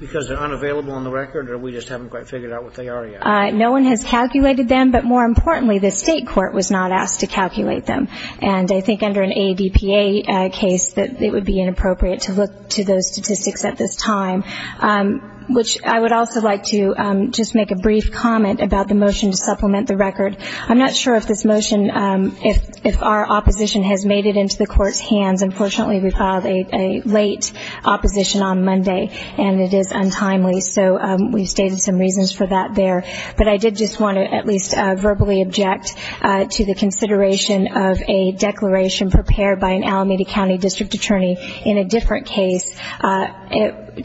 because they're unavailable on the record or we just haven't quite figured out what they are yet? No one has calculated them, but more importantly, the state court was not asked to calculate them. And I think under an ADPA case that it would be inappropriate to look to those statistics at this time, which I would also like to just make a brief comment about the motion to supplement the record. I'm not sure if this motion, if our opposition has made it into the court's hands. Unfortunately, we filed a late opposition on Monday, and it is untimely. So we stated some reasons for that there. But I did just want to at least verbally object to the consideration of a declaration prepared by an Alameda County District Attorney in a different case,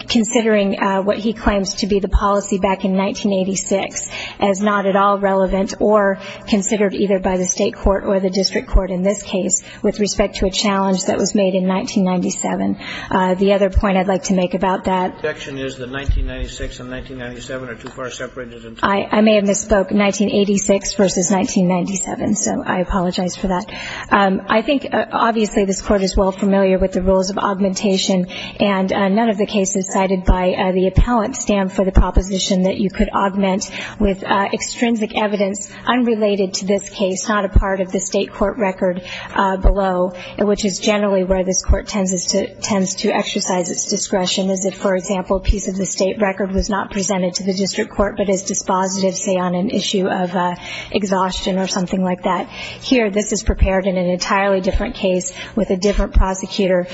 considering what he claims to be the policy back in 1986 as not at all relevant or considered either by the state court or the district court in this case with respect to a challenge that was made in 1997. The other point I'd like to make about that- The objection is that 1996 and 1997 are too far separated. I may have misspoke, 1986 versus 1997. So I apologize for that. I think, obviously, this court is well familiar with the rules of augmentation, and none of the cases cited by the appellant stand for the proposition that you could augment with extrinsic evidence unrelated to this case, not a part of the state court record below, which is generally where the court tends to exercise its discretion. As if, for example, a piece of the state record was not presented to the district court but is dispositive, say, on an issue of exhaustion or something like that. Here, this is prepared in an entirely different case with a different prosecutor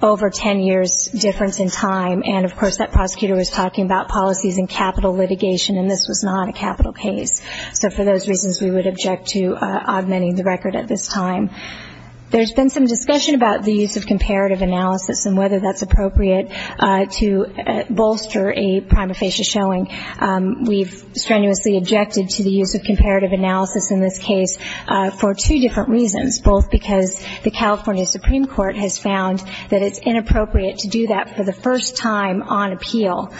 over 10 years' difference in time. And, of course, that prosecutor was talking about policies and capital litigation, and this was not a capital case. So for those reasons, we would object to augmenting the record at this time. There's been some discussion about the use of comparative analysis and whether that's appropriate to bolster a prima facie showing. We've strenuously objected to the use of comparative analysis in this case for two different reasons, both because the California Supreme Court has found that it's inappropriate to do that for the first time on appeal,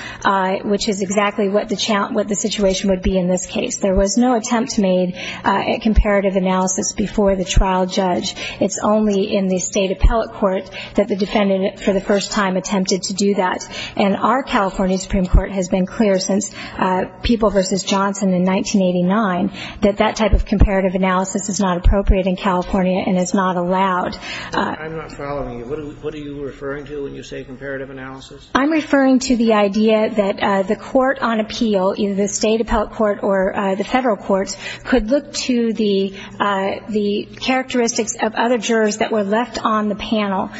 which is exactly what the situation would be in this case. There was no attempt made at comparative analysis before the trial judge. It's only in the state appellate court that the defendant, for the first time, attempted to do that. And our California Supreme Court has been clear since People v. Johnson in 1989 that that type of comparative analysis is not appropriate in California and is not allowed. I'm not following you. What are you referring to when you say comparative analysis? I'm referring to the idea that the court on appeal, either the state appellate court or the federal court, could look to the characteristics of other jurors that were left on the panel,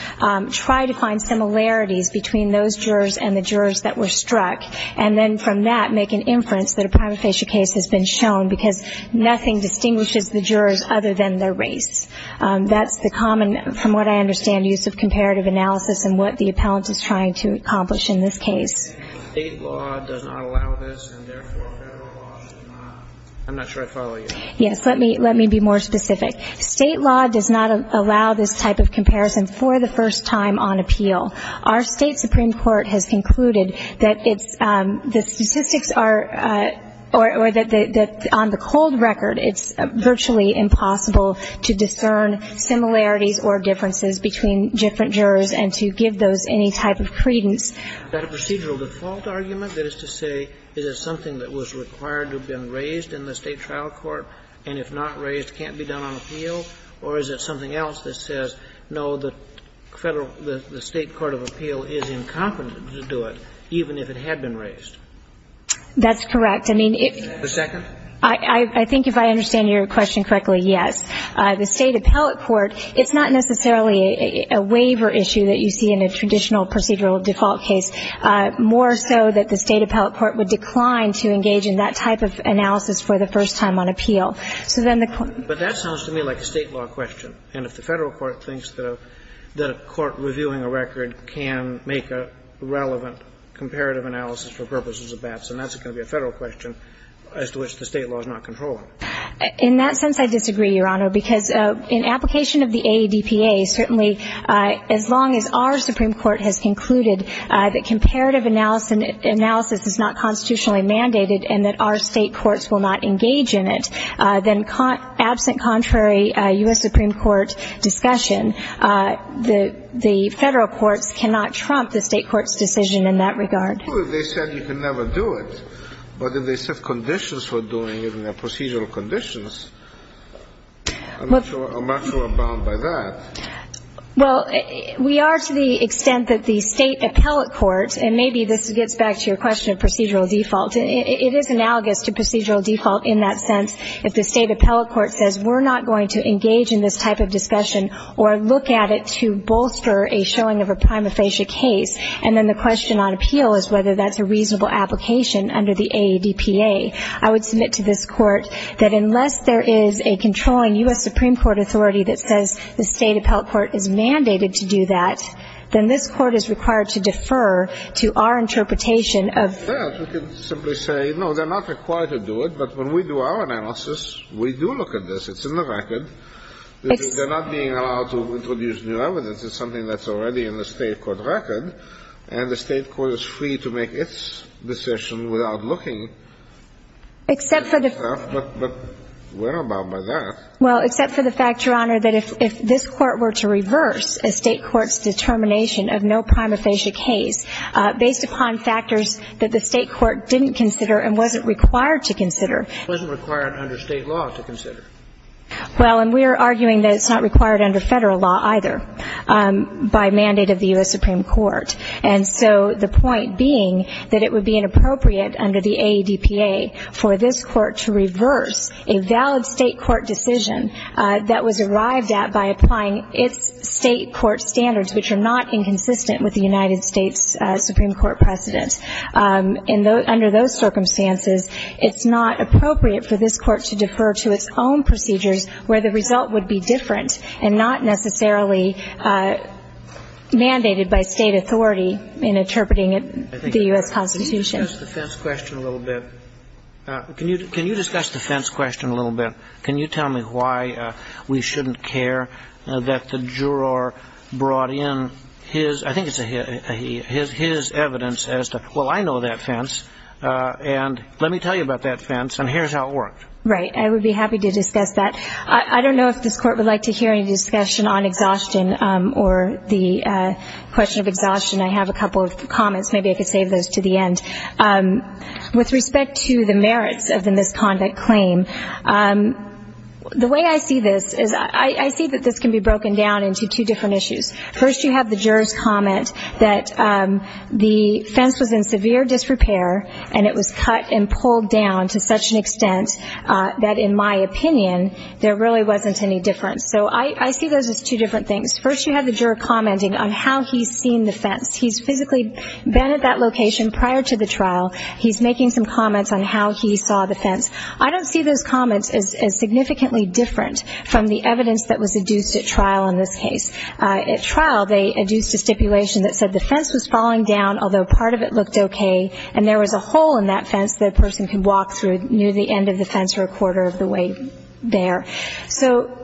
try to find similarities between those jurors and the jurors that were struck, and then from that make an inference that a prima facie case has been shown because nothing distinguishes the jurors other than their race. That's the common, from what I understand, use of comparative analysis and what the appellant was trying to accomplish in this case. State law does not allow this, and therefore federal law. I'm not sure I follow you. Yes, let me be more specific. State law does not allow this type of comparison for the first time on appeal. Our state Supreme Court has concluded that the statistics are, or that on the cold record, it's virtually impossible to discern similarities or differences between different jurors and to give those any type of credence. Is that a procedural default argument? That is to say it is something that was required to have been raised in the state trial court and, if not raised, can't be done on appeal? Or is it something else that says, no, the state court of appeal is incompetent to do it, even if it had been raised? That's correct. The second? I think if I understand your question correctly, yes. The state appellate court, it's not necessarily a waiver issue that you see in a traditional procedural default case. More so that the state appellate court would decline to engage in that type of analysis for the first time on appeal. But that sounds to me like a state law question. And if the federal court thinks that a court reviewing a record can make a relevant comparative analysis for purposes of that, then that's going to be a federal question as to which the state law is not controlling. In that sense, I disagree, Your Honor, because in application of the AABPA, certainly as long as our Supreme Court has concluded that comparative analysis is not constitutionally mandated and that our state courts will not engage in it, then absent contrary U.S. Supreme Court discussion, the federal courts cannot trump the state court's decision in that regard. Well, they said you can never do it. But if they set conditions for doing it and their procedural conditions, I'm not sure I'm bound by that. Well, we are to the extent that the state appellate courts, and maybe this gets back to your question of procedural default. It is analogous to procedural default in that sense. If the state appellate court says we're not going to engage in this type of discussion or look at it to bolster a showing of a prima facie case, and then the question on appeal is whether that's a reasonable application under the AABPA, I would submit to this court that unless there is a controlling U.S. Supreme Court authority that says the state appellate court is mandated to do that, then this court is required to defer to our interpretation of that. We can simply say, no, they're not required to do it. But when we do our analysis, we do look at this. It's in the record. They're not being allowed to introduce new evidence. It's something that's already in the state court record. And the state court is free to make its decision without looking at that. But we're not bound by that. Well, except for the fact, Your Honor, that if this court were to reverse a state court's determination of no prima facie case based upon factors that the state court didn't consider and wasn't required to consider. It wasn't required under state law to consider. Well, and we're arguing that it's not required under federal law either by mandate of the U.S. Supreme Court. And so the point being that it would be inappropriate under the AABPA for this court to reverse a valid state court decision that was arrived at by applying its state court standards, which are not inconsistent with the United States Supreme Court precedent. And under those circumstances, it's not appropriate for this court to defer to its own procedures where the result would be different and not necessarily mandated by state authority in interpreting the U.S. Constitution. Can you discuss the fence question a little bit? Can you tell me why we shouldn't care that the juror brought in his evidence as to, well, I know that fence, and let me tell you about that fence, and here's how it worked. Right. I would be happy to discuss that. I don't know if this court would like to hear any discussion on exhaustion or the question of exhaustion. I have a couple of comments. Maybe I could save those to the end. With respect to the merits of the misconduct claim, the way I see this is I see that this can be broken down into two different issues. First, you have the juror's comment that the fence was in severe disrepair, and it was cut and pulled down to such an extent that, in my opinion, there really wasn't any difference. So I see those as two different things. First, you have the juror commenting on how he's seen the fence. He's physically been at that location prior to the trial. He's making some comments on how he saw the fence. I don't see those comments as significantly different from the evidence that was adduced at trial in this case. At trial, they adduced a stipulation that said the fence was falling down, although part of it looked okay, and there was a hole in that fence that a person can walk through near the end of the fence or a quarter of the way there. So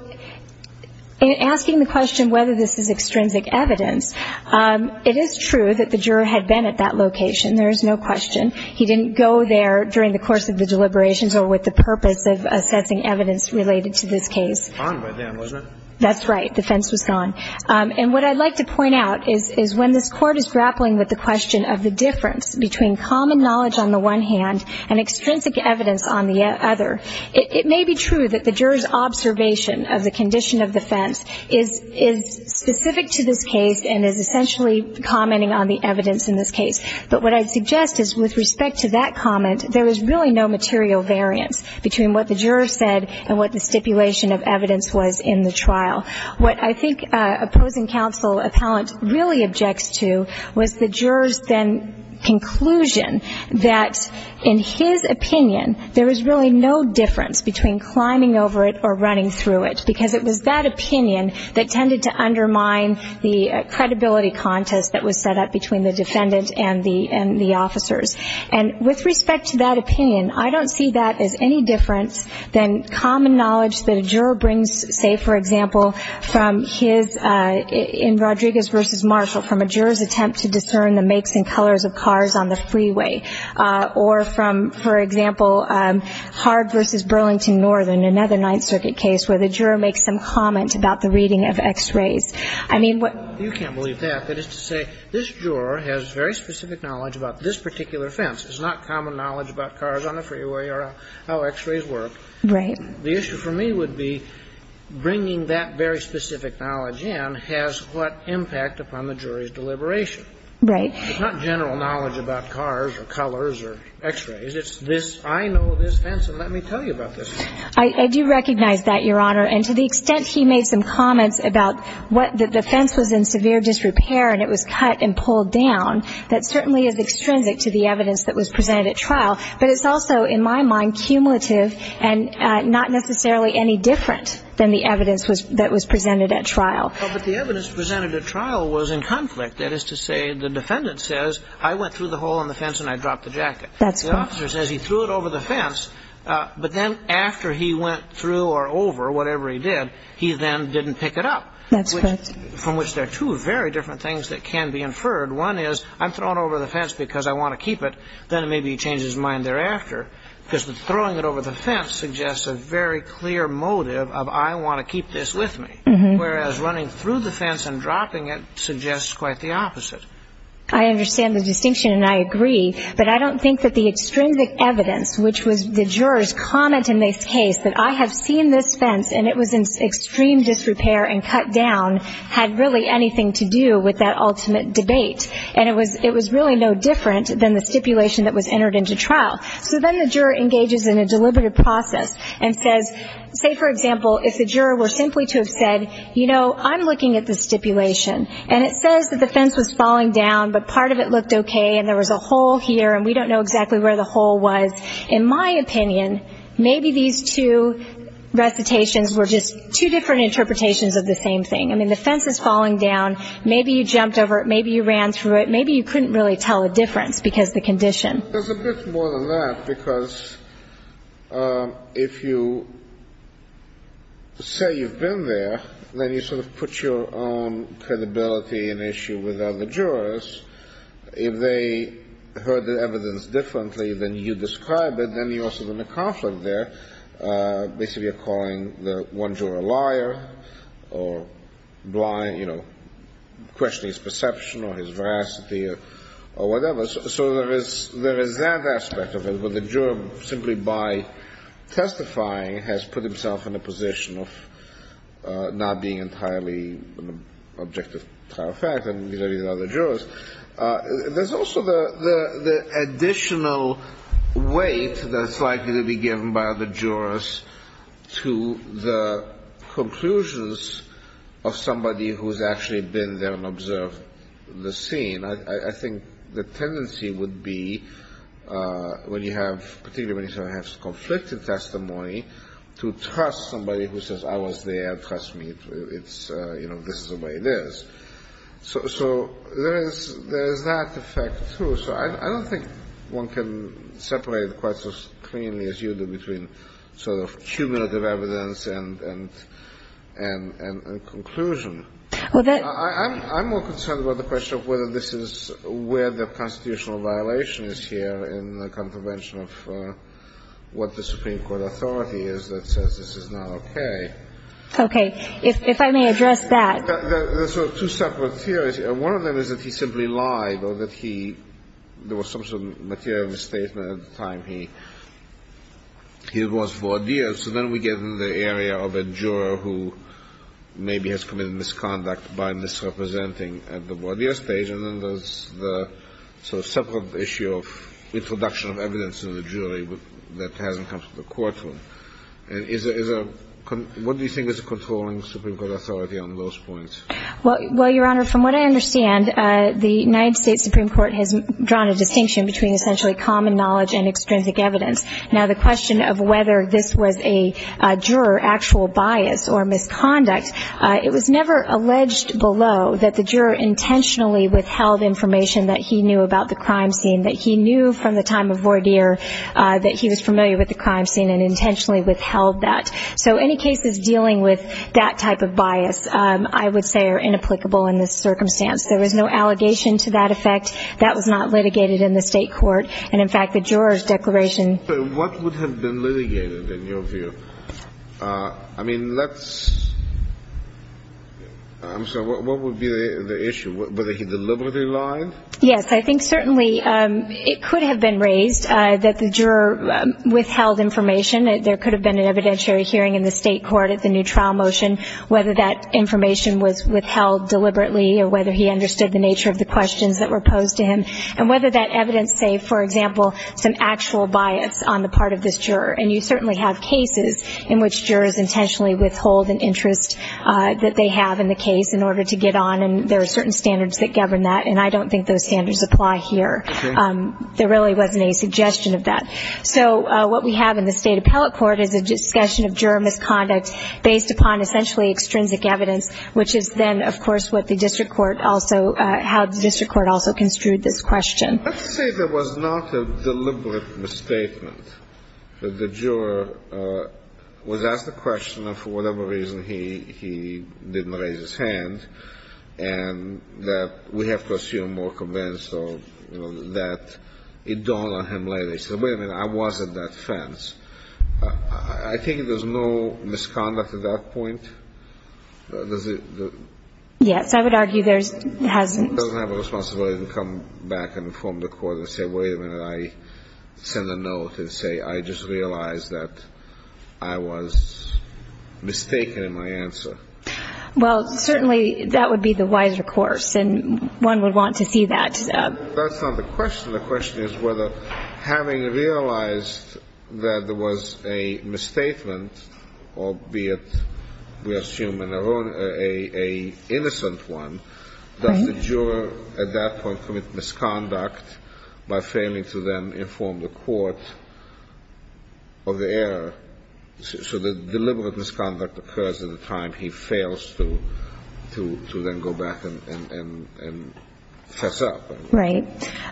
in asking the question whether this is extrinsic evidence, it is true that the juror had been at that location. There is no question. He didn't go there during the course of the deliberations or with the purpose of assessing evidence related to this case. It was gone by then, wasn't it? That's right. The fence was gone. And what I'd like to point out is when this court is grappling with the question of the difference between common knowledge on the one hand and extrinsic evidence on the other, it may be true that the juror's observation of the condition of the fence is specific to this case and is essentially commenting on the evidence in this case. But what I'd suggest is with respect to that comment, there is really no material variance between what the juror said and what the stipulation of evidence was in the trial. What I think opposing counsel appellant really objects to was the juror's then conclusion that in his opinion, there is really no difference between climbing over it or running through it because it was that opinion that tended to undermine the credibility contest that was set up between the defendant and the officers. And with respect to that opinion, I don't see that as any difference than common knowledge that a juror brings, say, for example, from his, in Rodriguez v. Marshall, from a juror's attempt to discern the makes and colors of cars on the freeway or from, for example, Hard v. Burlington Northern, another Ninth Circuit case, where the juror makes some comment about the reading of x-rays. I mean, what- You can't believe that. That is to say, this juror has very specific knowledge about this particular fence. It's not common knowledge about cars on the freeway or how x-rays work. Right. The issue for me would be bringing that very specific knowledge in has what impact upon the jury's deliberation. Right. It's not general knowledge about cars or colors or x-rays. It's this- I know this fence, and let me tell you about this fence. I do recognize that, Your Honor. And to the extent he made some comments about what- that the fence was in severe disrepair and it was cut and pulled down, that certainly is extrinsic to the evidence that was presented at trial. But it's also, in my mind, cumulative and not necessarily any different than the evidence that was presented at trial. But the evidence presented at trial was in conflict. That is to say, the defendant says, I went through the hole in the fence and I dropped the jacket. That's correct. The officer says he threw it over the fence, but then after he went through or over whatever he did, he then didn't pick it up. That's correct. From which there are two very different things that can be inferred. One is, I'm thrown over the fence because I want to keep it, then maybe he changes his mind thereafter. Because throwing it over the fence suggests a very clear motive of, I want to keep this with me. Whereas running through the fence and dropping it suggests quite the opposite. I understand the distinction and I agree, but I don't think that the extrinsic evidence, which was the juror's comment in this case that I have seen this fence and it was in extreme disrepair and cut down, had really anything to do with that ultimate debate. And it was really no different than the stipulation that was entered into trial. So then the juror engages in a deliberative process and says, say for example, if the juror were simply to have said, you know, I'm looking at the stipulation, and it says that the fence was falling down but part of it looked okay and there was a hole here and we don't know exactly where the hole was, in my opinion, maybe these two recitations were just two different interpretations of the same thing. And then the fence is falling down, maybe you jumped over it, maybe you ran through it, maybe you couldn't really tell the difference because of the condition. There's a bit more than that because if you say you've been there, then you sort of put your own credibility at issue with other jurors. If they heard the evidence differently than you described it, then you also have a conflict there. Basically you're calling the one juror a liar or questioning his perception or his veracity or whatever. So there is that aspect of it, but the juror, simply by testifying, has put himself in a position of not being entirely objective about the fact that he's not a juror. There's also the additional weight that's likely to be given by the jurors to the conclusions of somebody who's actually been there and observed the scene. I think the tendency would be, when you have conflicting testimony, to trust somebody who says, I was there, trust me, this is the way it is. So there is that effect, too. So I don't think one can separate it quite as cleanly as you do between sort of cumulative evidence and conclusion. I'm more concerned about the question of whether this is where the constitutional violation is here in the contravention of what the Supreme Court authority is that says this is not okay. Okay, if I may address that. There are sort of two separate theories. One of them is that he simply lied or that there was some sort of material misstatement at the time he was voir dire. So then we get into the area of a juror who maybe has committed misconduct by misrepresenting at the voir dire stage. And then there's the sort of separate issue of introduction of evidence to the jury that hasn't come to the courtroom. What do you think is a controlling Supreme Court authority on those points? Well, Your Honor, from what I understand, the United States Supreme Court has drawn a distinction between essentially common knowledge and extrinsic evidence. Now, the question of whether this was a juror's actual bias or misconduct, it was never alleged below that the juror intentionally withheld information that he knew about the crime scene, that he knew from the time of voir dire that he was familiar with the crime scene and intentionally withheld that. So any cases dealing with that type of bias, I would say, are inapplicable in this circumstance. There was no allegation to that effect. That was not litigated in the state court. And, in fact, the juror's declaration – But what would have been litigated in your view? I mean, let's – I'm sorry, what would be the issue? Whether he deliberately lied? Yes, I think certainly it could have been raised that the juror withheld information. There could have been an evidentiary hearing in the state court at the new trial motion, whether that information was withheld deliberately or whether he understood the nature of the questions that were posed to him, and whether that evidence say, for example, some actual bias on the part of this juror. And you certainly have cases in which jurors intentionally withhold an interest that they have in the case in order to get on, and there are certain standards that govern that. And I don't think those standards apply here. Okay. There really wasn't any suggestion of that. So what we have in the state appellate court is a discussion of juror misconduct based upon essentially extrinsic evidence, which is then, of course, what the district court also – how the district court also construed this question. Let's say there was not a deliberate misstatement. The juror was asked a question, and for whatever reason he didn't raise his hand, and that we have to assume more convincing that it dawned on him later. He said, wait a minute, I was at that fence. I think there's no misconduct at that point. Yes, I would argue there hasn't. He doesn't have a responsibility to come back and inform the court and say, wait a minute, I sent a note and say, I just realized that I was mistaken in my answer. Well, certainly that would be the wiser course, and one would want to see that. That's not the question. The question is whether having realized that there was a misstatement, albeit we assume an innocent one, does the juror at that point commit misconduct by failing to then inform the court of the error? So the deliberate misconduct occurs at the time he fails to then go back and fess up. Right.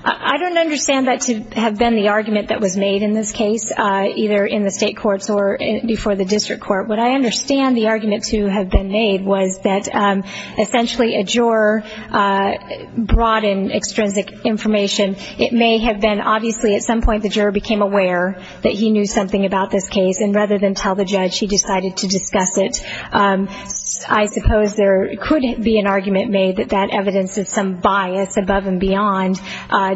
I don't understand that to have been the argument that was made in this case, either in the state courts or before the district court. What I understand the argument to have been made was that essentially a juror brought in extrinsic information. It may have been obviously at some point the juror became aware that he knew something about this case, and rather than tell the judge, he decided to discuss it. I suppose there couldn't be an argument made that that evidence is some bias above and beyond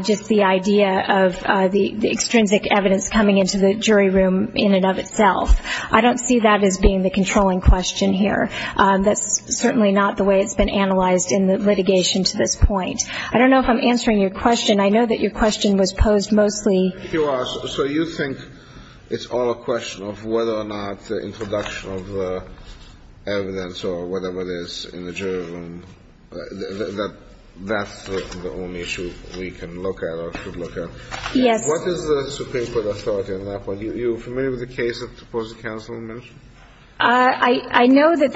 just the idea of the extrinsic evidence coming into the jury room in and of itself. I don't see that as being the controlling question here. That's certainly not the way it's been analyzed in the litigation to this point. I don't know if I'm answering your question. I know that your question was posed mostly. So you think it's all a question of whether or not the introduction of evidence or whatever it is in the jury room, that that's the only issue we can look at or should look at? Yes. What is the Supreme Court authority on that point? Are you familiar with the case that the Supposed Counsel mentioned? I know that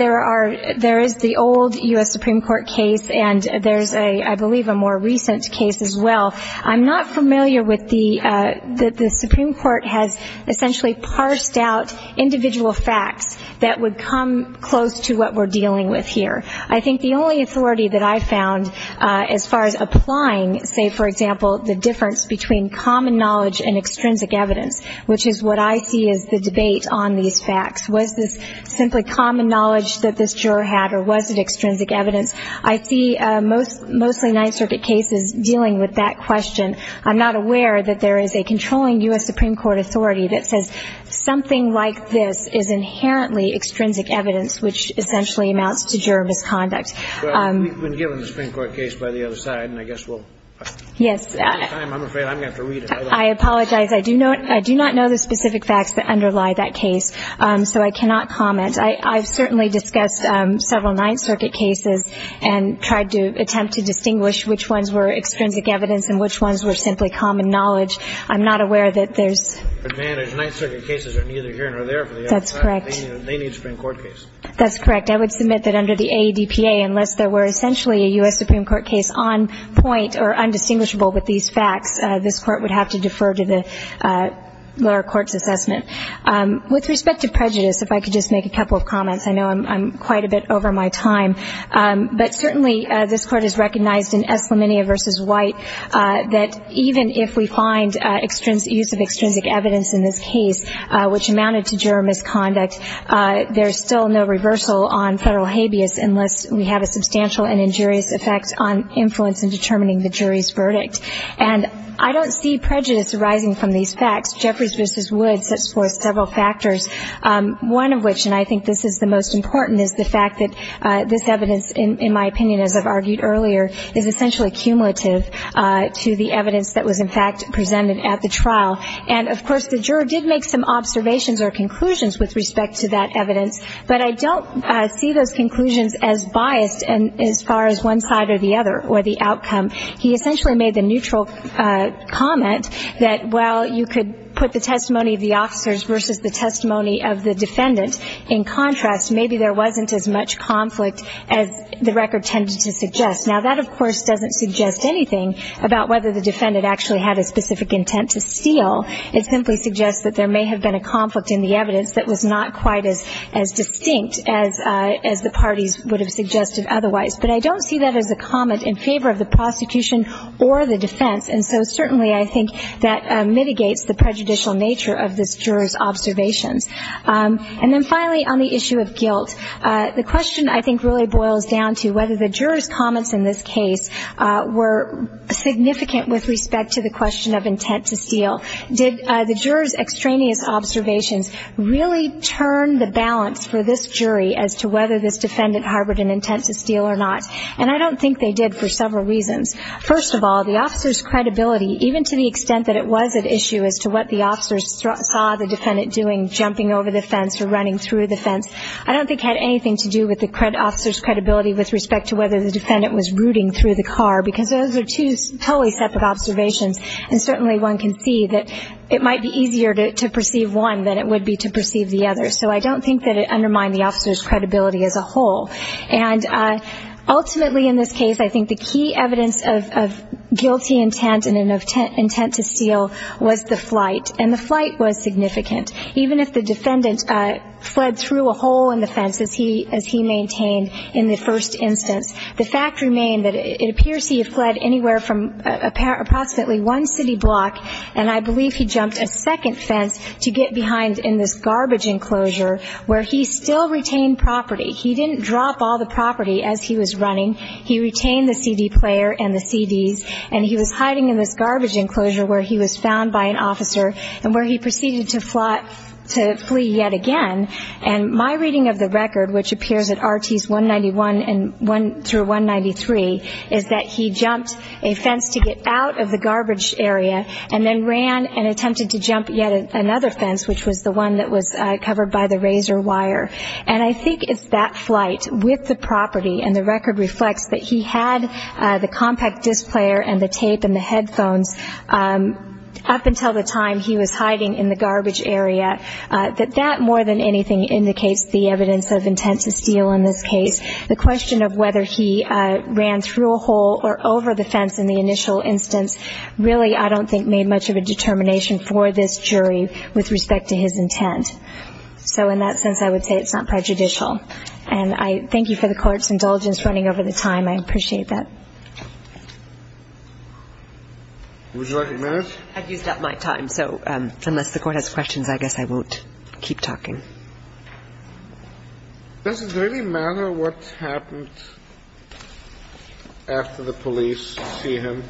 there is the old U.S. Supreme Court case, and there's, I believe, a more recent case as well. I'm not familiar with the Supreme Court has essentially parsed out individual facts that would come close to what we're dealing with here. I think the only authority that I found as far as applying, say, for example, the difference between common knowledge and extrinsic evidence, which is what I see as the debate on these facts. Was this simply common knowledge that this juror had, or was it extrinsic evidence? I see mostly Ninth Circuit cases dealing with that question. I'm not aware that there is a controlling U.S. Supreme Court authority that says something like this is inherently extrinsic evidence, which essentially amounts to juror misconduct. Well, we've been given the Supreme Court case by the other side, and I guess we'll – Yes. I'm afraid I'm going to have to read it. I apologize. I do not know the specific facts that underlie that case, so I cannot comment. I've certainly discussed several Ninth Circuit cases and tried to attempt to distinguish which ones were extrinsic evidence and which ones were simply common knowledge. I'm not aware that there's – The Ninth Circuit cases are neither here nor there for the other side. That's correct. They need a Supreme Court case. That's correct. I would submit that under the ADPA, unless there were essentially a U.S. Supreme Court case on point or undistinguishable with these facts, this Court would have to defer to the lower court's assessment. With respect to prejudice, if I could just make a couple of comments. I know I'm quite a bit over my time, but certainly this Court has recognized in Eslaminia v. White that even if we find use of extrinsic evidence in this case, which amounted to juror misconduct, there's still no reversal on federal habeas unless we have a substantial and injurious effect on influence in determining the jury's verdict. And I don't see prejudice arising from these facts. Jeffers v. Woods puts forth several factors, one of which, and I think this is the most important, is the fact that this evidence, in my opinion, as I've argued earlier, is essentially cumulative to the evidence that was, in fact, presented at the trial. And, of course, the juror did make some observations or conclusions with respect to that evidence, but I don't see those conclusions as biased as far as one side or the other or the outcome. He essentially made the neutral comment that while you could put the testimony of the officers versus the testimony of the defendant, in contrast, maybe there wasn't as much conflict as the record tended to suggest. Now, that, of course, doesn't suggest anything about whether the defendant actually had a specific intent to steal. It simply suggests that there may have been a conflict in the evidence that was not quite as distinct as the parties would have suggested otherwise. But I don't see that as a comment in favor of the prosecution or the defense, and so certainly I think that mitigates the prejudicial nature of this juror's observation. And then finally, on the issue of guilt, the question, I think, really boils down to whether the juror's comments in this case were significant with respect to the question of intent to steal. Did the juror's extraneous observations really turn the balance for this jury as to whether this defendant harbored an intent to steal or not? And I don't think they did for several reasons. First of all, the officer's credibility, even to the extent that it was at issue as to what the officer saw the defendant doing, jumping over the fence or running through the fence, I don't think had anything to do with the officer's credibility with respect to whether the defendant was rooting through the car because those are two totally separate observations, and certainly one can see that it might be easier to perceive one than it would be to perceive the other. So I don't think that it undermined the officer's credibility as a whole. And ultimately in this case, I think the key evidence of guilty intent and an intent to steal was the flight, and the flight was significant. Even if the defendant fled through a hole in the fence, as he maintained in the first instance, the fact remained that it appears he fled anywhere from approximately one city block, and I believe he jumped a second fence to get behind in this garbage enclosure where he still retained property. He didn't drop all the property as he was running. He retained the CD player and the CDs, and he was hiding in this garbage enclosure where he was found by an officer and where he proceeded to flee yet again. And my reading of the record, which appears at RTs 191 through 193, is that he jumped a fence to get out of the garbage area and then ran and attempted to jump yet another fence, which was the one that was covered by the razor wire. And I think it's that flight with the property, and the record reflects that he had the compact disc player and the tape and the headphones. Up until the time he was hiding in the garbage area, that that more than anything indicates the evidence of intent to steal in this case. The question of whether he ran through a hole or over the fence in the initial instance really I don't think made much of a determination for this jury with respect to his intent. So in that sense, I would say it's not prejudicial. And I thank you for the Court's indulgence running over the time. I appreciate that. Would you like a minute? I've used up my time, so unless the Court has questions, I guess I won't keep talking. Does it really matter what happens after the police see him?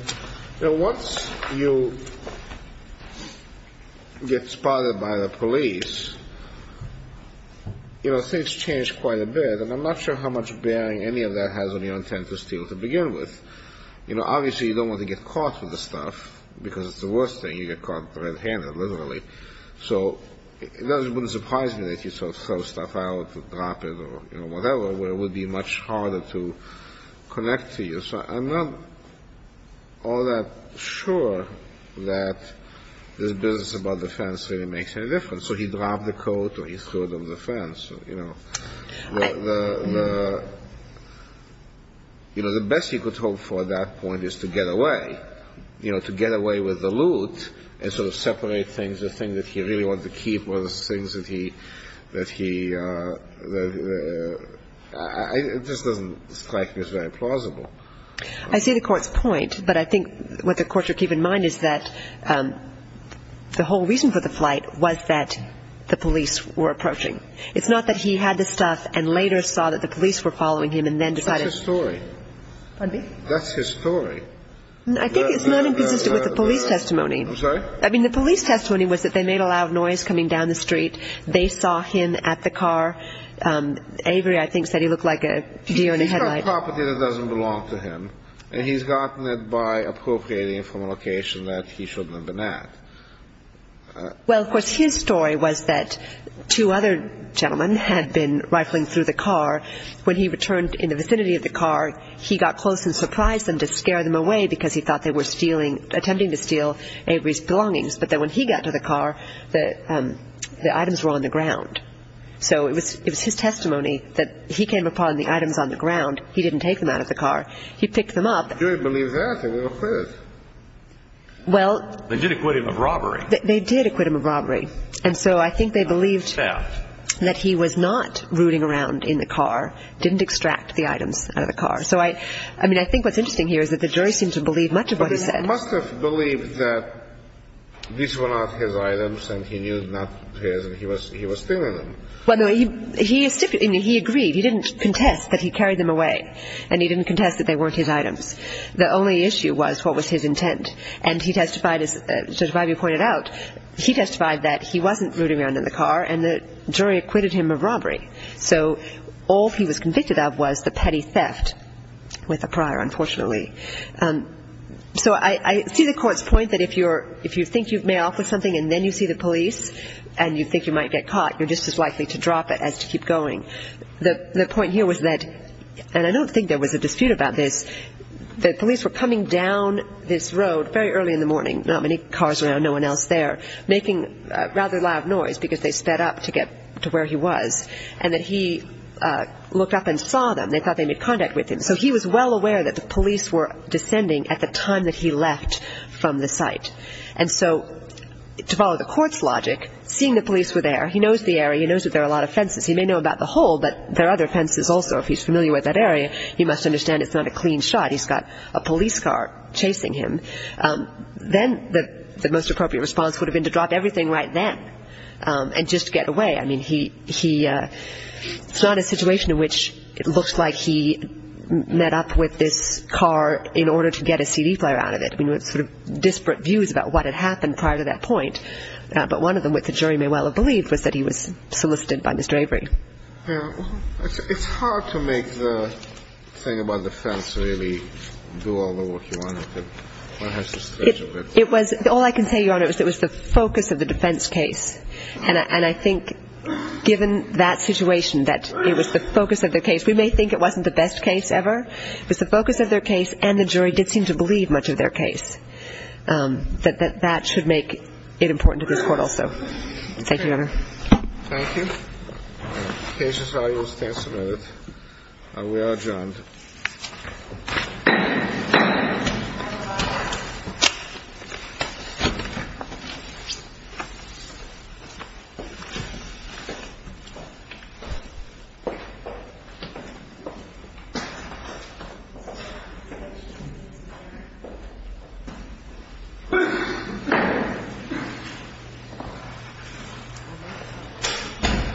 Once you get spotted by the police, you know, things change quite a bit. And I'm not sure how much bearing any of that has on your intent to steal to begin with. You know, obviously you don't want to get caught for this stuff, because it's the worst thing, you get caught red-handed, literally. So it wouldn't surprise me that you sort of throw stuff out or drop it or whatever, where it would be much harder to connect to you. So I'm not all that sure that this business about the fence really makes any difference. So he dropped the coat or he threw it over the fence. You know, the best you could hope for at that point is to get away. But, you know, to get away with the loot and sort of separate things, the thing that he really wanted to keep or the things that he – it just doesn't strike me as very plausible. I see the Court's point, but I think what the Court should keep in mind is that the whole reason for the flight was that the police were approaching. It's not that he had the stuff and later saw that the police were following him and then decided – That's his story. Pardon me? I think it's nothing to do with the police testimony. I'm sorry? I mean, the police testimony was that they made a lot of noise coming down the street. They saw him at the car. Avery, I think, said he looked like a deer in a headlight. He's got a property that doesn't belong to him, and he's gotten it by appropriating it from a location that he shouldn't have been at. Well, of course, his story was that two other gentlemen had been rifling through the car. When he returned in the vicinity of the car, he got close and surprised them to scare them away because he thought they were stealing, attempting to steal Avery's belongings. But then when he got to the car, the items were on the ground. So it was his testimony that he came upon the items on the ground. He didn't take them out of the car. He picked them up. They didn't believe that. They were afraid. They did acquit him of robbery. They did acquit him of robbery. And so I think they believed that he was not rooting around in the car, didn't extract the items out of the car. So, I mean, I think what's interesting here is that the jury seemed to believe much of what he said. But he must have believed that these were not his items and he knew he was stealing them. Well, no, he agreed. He didn't contest that he carried them away, and he didn't contest that they weren't his items. The only issue was what was his intent. And he testified, as Judge Harvey pointed out, he testified that he wasn't rooting around in the car and the jury acquitted him of robbery. So all he was convicted of was the petty theft with a prior, unfortunately. So I see the court's point that if you think you've made off with something and then you see the police and you think you might get caught, you're just as likely to drop it as to keep going. The point here was that, and I don't think there was a dispute about this, the police were coming down this road very early in the morning, not many cars around, no one else there, making a rather loud noise because they sped up to get to where he was. And that he looked up and saw them. They thought they made contact with him. So he was well aware that the police were descending at the time that he left from the site. And so to follow the court's logic, seeing the police were there, he knows the area, he knows that there are a lot of fences. He may know about the hole, but there are other fences also. If he's familiar with that area, he must understand it's not a clean shot. He's got a police car chasing him. Then the most appropriate response would have been to drop everything right then and just get away. I mean, he saw a situation in which it looks like he met up with this car in order to get a CD player out of it. There were sort of disparate views about what had happened prior to that point. But one of them, which the jury may well have believed, was that he was solicited by Mr. Avery. It's hard to make the thing about the fence really do all the work you want it to. All I can say, Your Honor, is that it was the focus of the defense case. And I think, given that situation, that it was the focus of the case. We may think it wasn't the best case ever, but the focus of the case and the jury did seem to believe much of their case. That should make it important to this court also. Thank you, Your Honor. Thank you. Case is now in response mode. We are adjourned. Thank you.